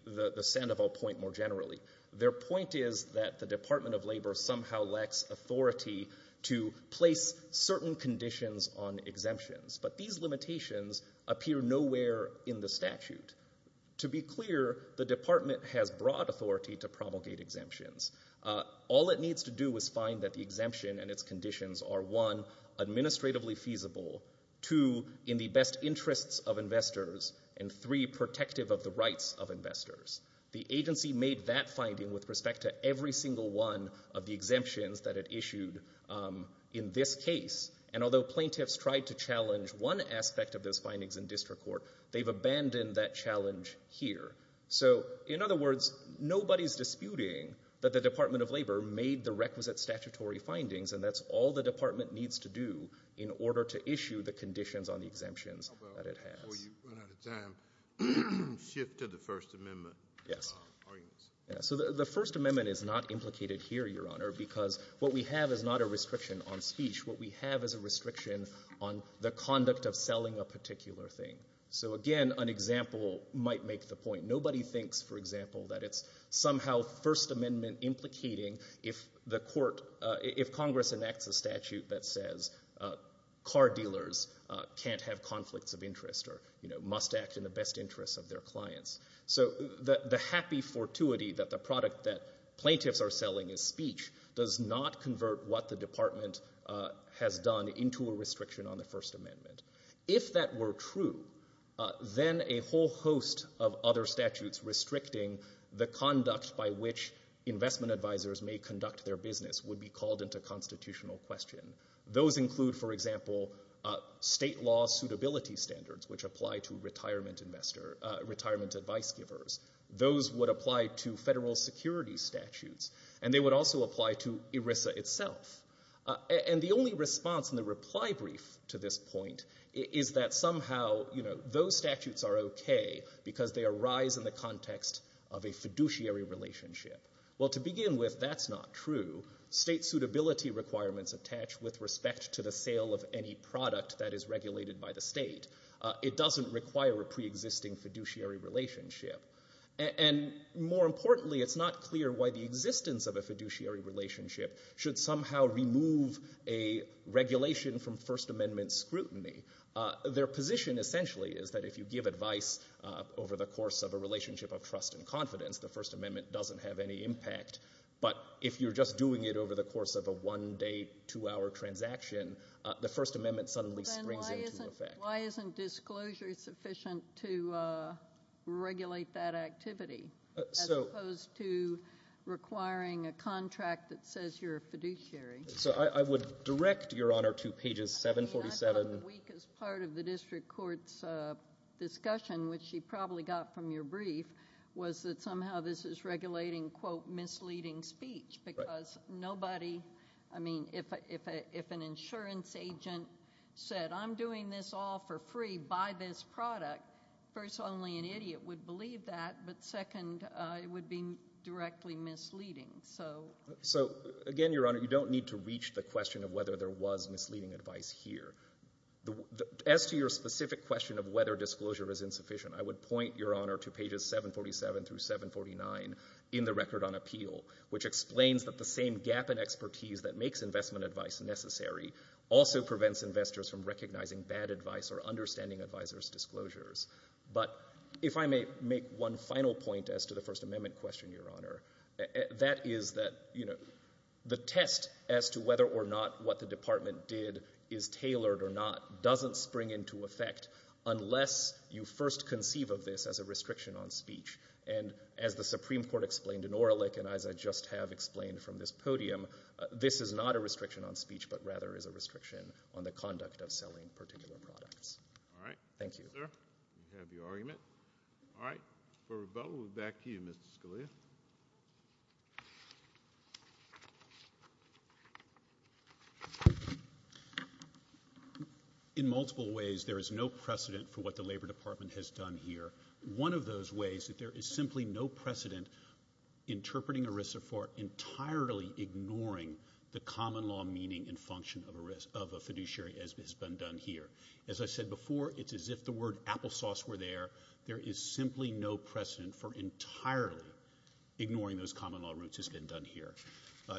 Sandoval point more generally, their point is that the Department of Labor somehow lacks authority to place certain conditions on exemptions. But these limitations appear nowhere in the statute. To be clear, the department has broad authority to promulgate exemptions. All it needs to do is find that the exemption and its conditions are, one, administratively feasible, two, in the best interests of investors, and three, protective of the rights of investors. The agency made that finding with respect to every single one of the exemptions that it issued in this case. And although plaintiffs tried to challenge one aspect of those findings in district court, they've abandoned that challenge here. So, in other words, nobody's disputing that the Department of Labor made the requisite statutory findings, and that's all the department needs to do in order to issue the conditions on the exemptions that it has. Before you run out of time, shift to the First Amendment. Yes. So the First Amendment is not implicated here, Your Honor, because what we have is not a restriction on speech. What we have is a restriction on the conduct of selling a particular thing. So, again, an example might make the point. Nobody thinks, for example, that it's somehow First Amendment implicating if Congress enacts a statute that says car dealers can't have conflicts of interest or must act in the best interest of their clients. So the happy fortuity that the product that plaintiffs are selling is speech does not convert what the department has done into a restriction on the First Amendment. If that were true, then a whole host of other statutes restricting the conduct by which investment advisors may conduct their business would be called into constitutional question. Those include, for example, state law suitability standards, which apply to retirement advice givers. Those would apply to federal security statutes, and they would also apply to ERISA itself. And the only response in the reply brief to this point is that somehow, you know, those statutes are okay because they arise in the context of a fiduciary relationship. Well, to begin with, that's not true. State suitability requirements attach with respect to the sale of any product that is regulated by the state. It doesn't require a preexisting fiduciary relationship. And more importantly, it's not clear why the existence of a fiduciary relationship should somehow remove a regulation from First Amendment scrutiny. Their position, essentially, is that if you give advice over the course of a relationship of trust and confidence, the First Amendment doesn't have any impact. But if you're just doing it over the course of a one-day, two-hour transaction, the First Amendment suddenly springs into effect. Then why isn't disclosure sufficient to regulate that activity as opposed to requiring a contract that says you're a fiduciary? So I would direct Your Honor to pages 747. I mean, I thought the weakest part of the district court's discussion, which you probably got from your brief, was that somehow this is regulating quote, misleading speech, because nobody, I mean, if an insurance agent said, I'm doing this all for free. Buy this product. First, only an idiot would believe that. But second, it would be directly misleading. So... So, again, Your Honor, you don't need to reach the question of whether there was misleading advice here. As to your specific question of whether disclosure is insufficient, I would point, Your Honor, to pages 747 through 749 in the Record on Appeal, which explains that the same gap in expertise that makes investment advice necessary also prevents investors from recognizing bad advice or understanding advisors' disclosures. But if I may make one final point as to the First Amendment question, Your Honor, that is that, you know, the test as to whether or not what the department did is tailored or not doesn't spring into effect unless you first conceive of this as a restriction on speech. And as the Supreme Court explained in Orlick and as I just have explained from this podium, this is not a restriction on speech, but rather is a restriction on the conduct of selling particular products. All right. Thank you. You have your argument. All right. For rebuttal, we'll move back to you, Mr. Scalia. In multiple ways, there is no precedent for what the Labor Department has done here. One of those ways is that there is simply no precedent interpreting ERISA for entirely ignoring the common law meaning and function of a fiduciary as has been done here. As I said before, it's as if the word applesauce were there. There is simply no precedent for entirely ignoring those common law roots as has been done here.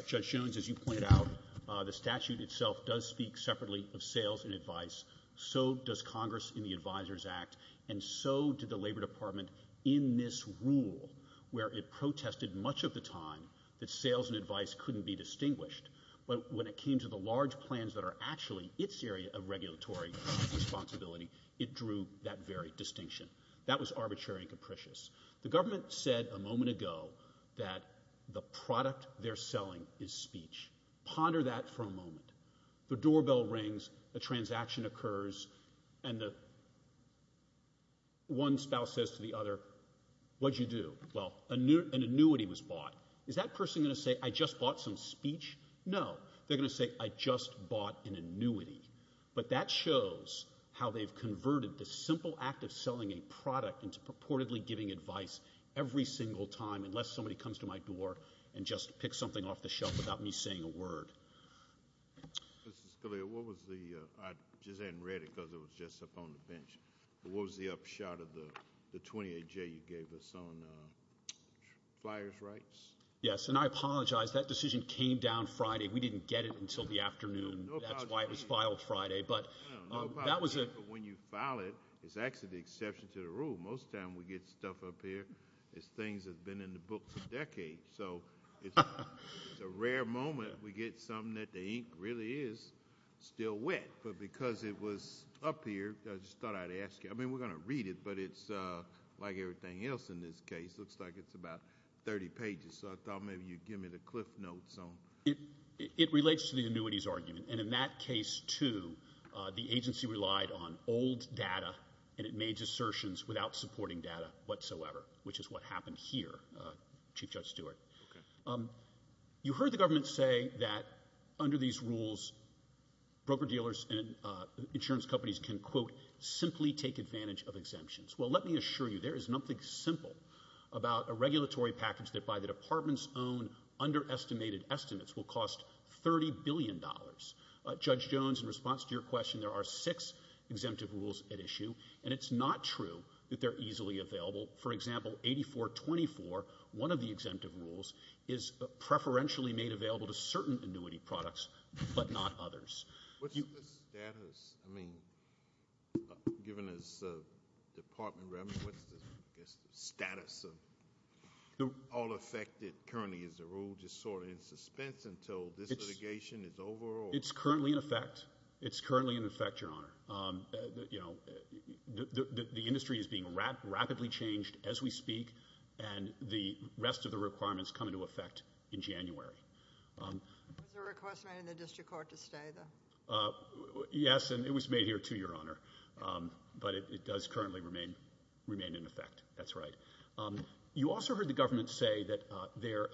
Judge Jones, as you pointed out, the statute itself does speak separately of sales and advice. So does Congress in the Advisors Act and so did the Labor Department in this rule where it protested much of the time that sales and advice couldn't be distinguished. But when it came to the large plans that are actually its area of regulatory responsibility, it drew that very distinction. That was arbitrary and capricious. The government said a moment ago that the product they're selling is speech. Ponder that for a moment. The doorbell rings. A transaction occurs, and one spouse says to the other, What did you do? Well, an annuity was bought. Is that person going to say, I just bought some speech? No, they're going to say, I just bought an annuity. But that shows how they've converted the simple act of selling a product into purportedly giving advice every single time unless somebody comes to my door and just picks something off the shelf without me saying a word. Mr. Scalia, what was the, I just hadn't read it because it was just up on the bench, but what was the upshot of the 28-J you gave us on flyers' rights? Yes, and I apologize. That decision came down Friday. We didn't get it until the afternoon. That's why it was filed Friday. But that was a... No apology. But when you file it, it's actually the exception to the rule. Most of the time we get stuff up here as things that have been in the books a decade. So it's a rare moment that we get something that the ink really is still wet. But because it was up here, I just thought I'd ask you. I mean, we're going to read it, but it's, like everything else in this case, looks like it's about 30 pages. So I thought maybe you'd give me the cliff notes on... It relates to the annuities argument. And in that case, too, the agency relied on old data, and it made assertions without supporting data whatsoever, which is what happened here, Chief Judge Stewart. Okay. You heard the government say that under these rules, broker-dealers and insurance companies can, quote, simply take advantage of exemptions. Well, let me assure you, there is nothing simple about a regulatory package that by the department's own underestimated estimates will cost $30 billion. Judge Jones, in response to your question, there are six exemptive rules at issue, and it's not true that they're easily available. For example, 8424, one of the exemptive rules is preferentially made available to certain annuity products, but not others. What's the status? I mean, given this department revenue, what's the status of all affected currently as a rule just sort of in suspense until this litigation is over? It's currently in effect. It's currently in effect, Your Honor. You know, the industry is being rapidly changed as we speak, and the rest of the requirements come into effect in January. Was the request made in the district court to stay, though? Yes, and it was made here, too, Your Honor. But it does currently remain in effect. That's right. You also heard the government say that their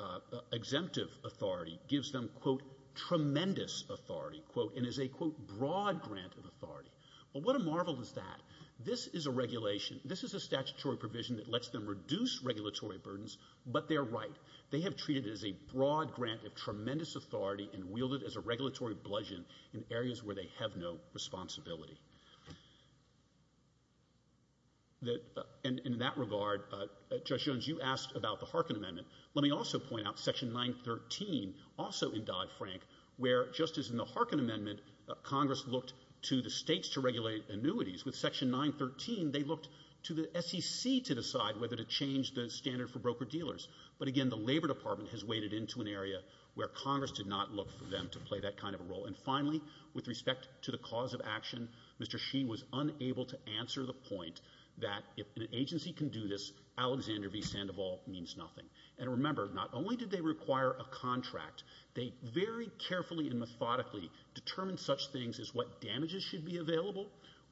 exemptive authority gives them, quote, tremendous authority, quote, and is a, quote, broad grant of authority. Well, what a marvel is that? This is a regulation. This is a statutory provision that lets them reduce regulatory burdens, but they're right. They have treated it as a broad grant of tremendous authority and wielded it as a regulatory bludgeon in areas where they have no responsibility. And in that regard, Judge Jones, you asked about the Harkin Amendment. Let me also point out Section 913, also in Dodd-Frank, where, just as in the Harkin Amendment, Congress looked to the states to regulate annuities. With Section 913, they looked to the SEC to decide whether to change the standard for broker-dealers. But again, the Labor Department has waded into an area where Congress did not look for them to play that kind of a role. And finally, with respect to the cause of action, Mr. Sheen was unable to answer the point that if an agency can do this, Alexander v. Sandoval means nothing. And remember, not only did they require a contract, they very carefully and methodically determined such things as what damages should be available,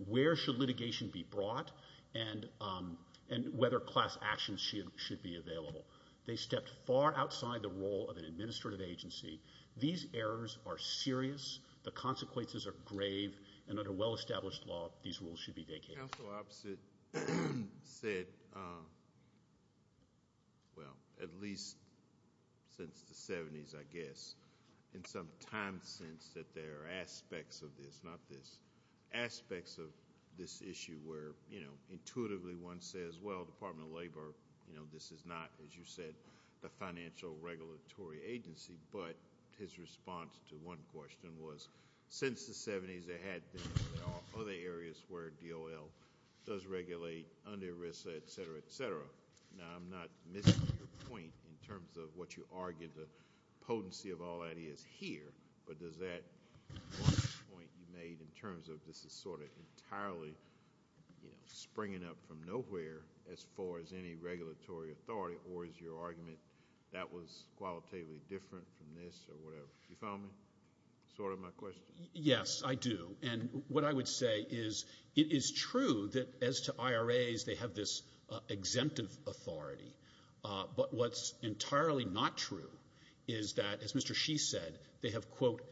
where should litigation be brought, and whether class action should be available. They stepped far outside the role of an administrative agency. These errors are serious. The consequences are grave. And under well-established law, these rules should be vacated. Counsel Opposite said, well, at least since the 70s, I guess, in some time since, that there are aspects of this, not this, aspects of this issue where intuitively one says, well, Department of Labor, this is not, as you said, the financial regulatory agency. But his response to one question was, since the 70s, there had been other areas where DOL does regulate under risk, et cetera, et cetera. Now, I'm not missing your point in terms of what you argued, the potency of all that is here. But does that point you made in terms of this is sort of entirely springing up from nowhere as far as any regulatory authority, or is your argument that was qualitatively different from this or whatever? You follow me? Sort of my question. Yes, I do. And what I would say is it is true that as to IRAs, they have this exemptive authority. But what's entirely not true is that, as Mr. Shee said, they have, quote,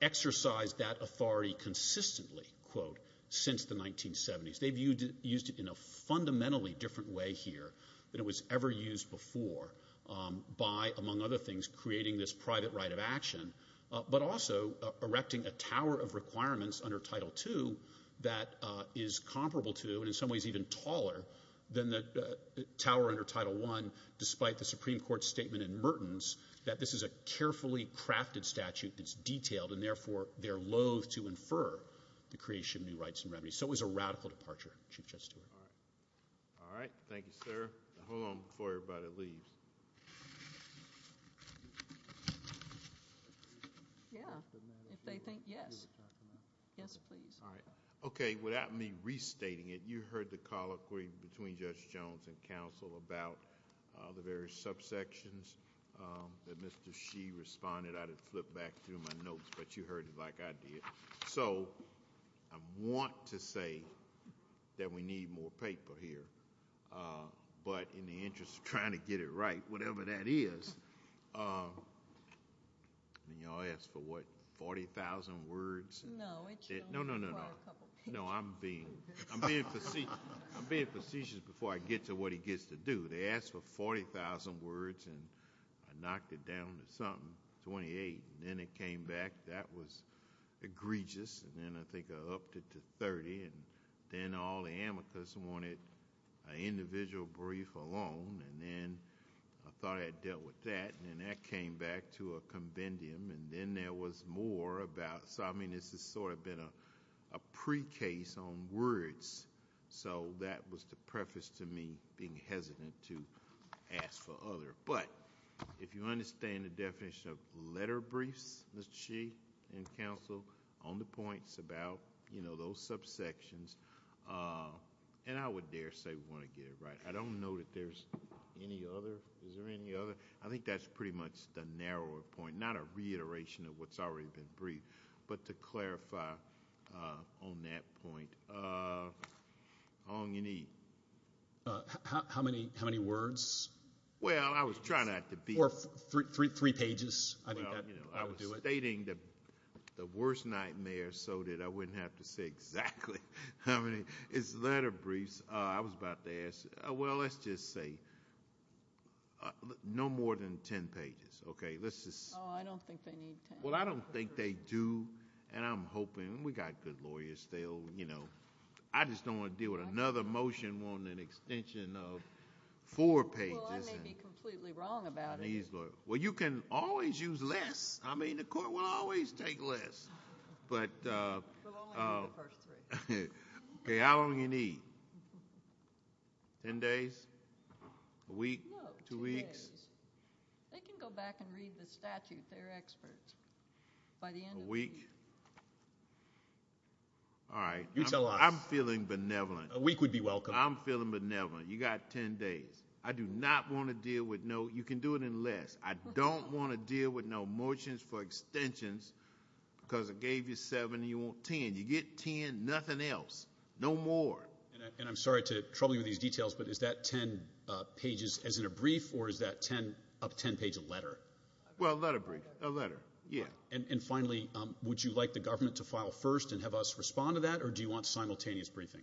exercised that authority consistently, quote, since the 1970s. They've used it in a fundamentally different way here than it was ever used before by, among other things, creating this private right of action, but also erecting a tower of requirements under Title II that is comparable to and in some ways even taller than the tower under Title I despite the Supreme Court statement in Mertens that this is a carefully crafted statute that's detailed and therefore they're loathe to infer the creation of new rights and remedies. So it was a radical departure, Chief Justice Stewart. All right. Thank you, sir. Hold on before everybody leaves. Yeah. If they think, yes. Yes, please. All right. Okay, without me restating it, you heard the colloquy between Judge Jones and counsel about the various subsections that Mr. Shee responded. I'd have flipped back through my notes, but you heard it like I did. So I want to say that we need more paper here, but in the interest of trying to get it right, whatever that is, I mean, y'all asked for what? 40,000 words? No. No, no, no, no. No, I'm being, I'm being facetious before I get to what he gets to do. They asked for 40,000 words and I knocked it down to something, 28, and then it came back. That was egregious. And then I think I upped it to 30 and then all the amicus wanted an individual brief alone and then I thought I had dealt with that and then that came back to a conventium and then there was more about, so I mean this has sort of been a pre-case on words. So that was the preface to me being hesitant to ask for other. But if you understand the definition of letter briefs, Mr. Sheehan, and counsel, on the points about, you know, those subsections, and I would dare say we want to get it right. I don't know that there's any other. Is there any other? I think that's pretty much the narrower point, not a reiteration of what's already been briefed, but to clarify on that point. Ong, you need. How many words? Well, I was trying not to be. Or three pages, I think that would do it. I was stating the worst nightmare so that I wouldn't have to say exactly how many. It's letter briefs. I was about to ask, well, let's just say no more than 10 pages, okay? Let's just. Oh, I don't think they need 10. Well, I don't think they do and I'm hoping, we got good lawyers still, you know. I just don't want to deal with another motion wanting an extension of four pages. Well, I may be completely wrong about it. Well, you can always use less. I mean, the court will always take less. But. Okay, how long you need? 10 days? A week? Two weeks? They can go back and read the statute. They're experts. A week? All right. I'm feeling benevolent. A week would be welcome. I'm feeling benevolent. You got 10 days. I do not want to deal with no. You can do it in less. I don't want to deal with no motions for extensions because it gave you seven and you want 10. You get 10, nothing else. No more. And I'm sorry to trouble you with these details, but is that 10 pages as in a brief or is that up 10 page a letter? Well, a letter brief. A letter, yeah. And finally, would you like the government to file first and have us respond to that or do you want simultaneous briefing?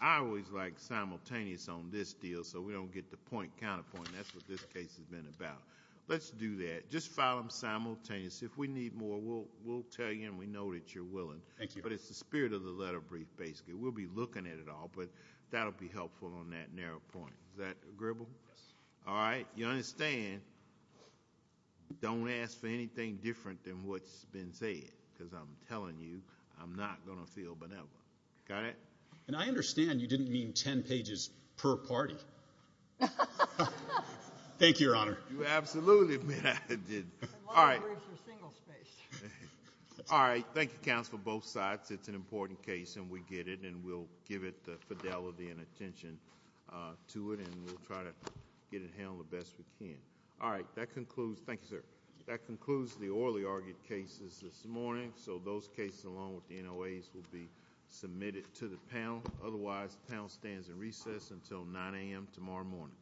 I always like simultaneous on this deal so we don't get the point counterpoint. That's what this case has been about. Let's do that. Just file them simultaneous. If we need more, we'll tell you and we know that you're willing. Thank you. But it's the spirit of the letter brief basically. We'll be looking at it all, but that'll be helpful on that narrow point. Is that agreeable? Yes. All right. You understand. Don't ask for anything different than what's been said because I'm telling you I'm not going to feel benevolent. Got it? And I understand you didn't mean 10 pages per party. Thank you, Your Honor. You absolutely did. All right. All right. Thank you, counsel, both sides. It's an important case and we get it and we'll give it the fidelity and attention to it and we'll try to get it handled the best we can. All right. That concludes. Thank you, sir. That concludes the orally argued cases this morning so those cases along with the NOAs will be submitted to the panel. Otherwise, the panel stands in recess until 9 a.m. tomorrow morning.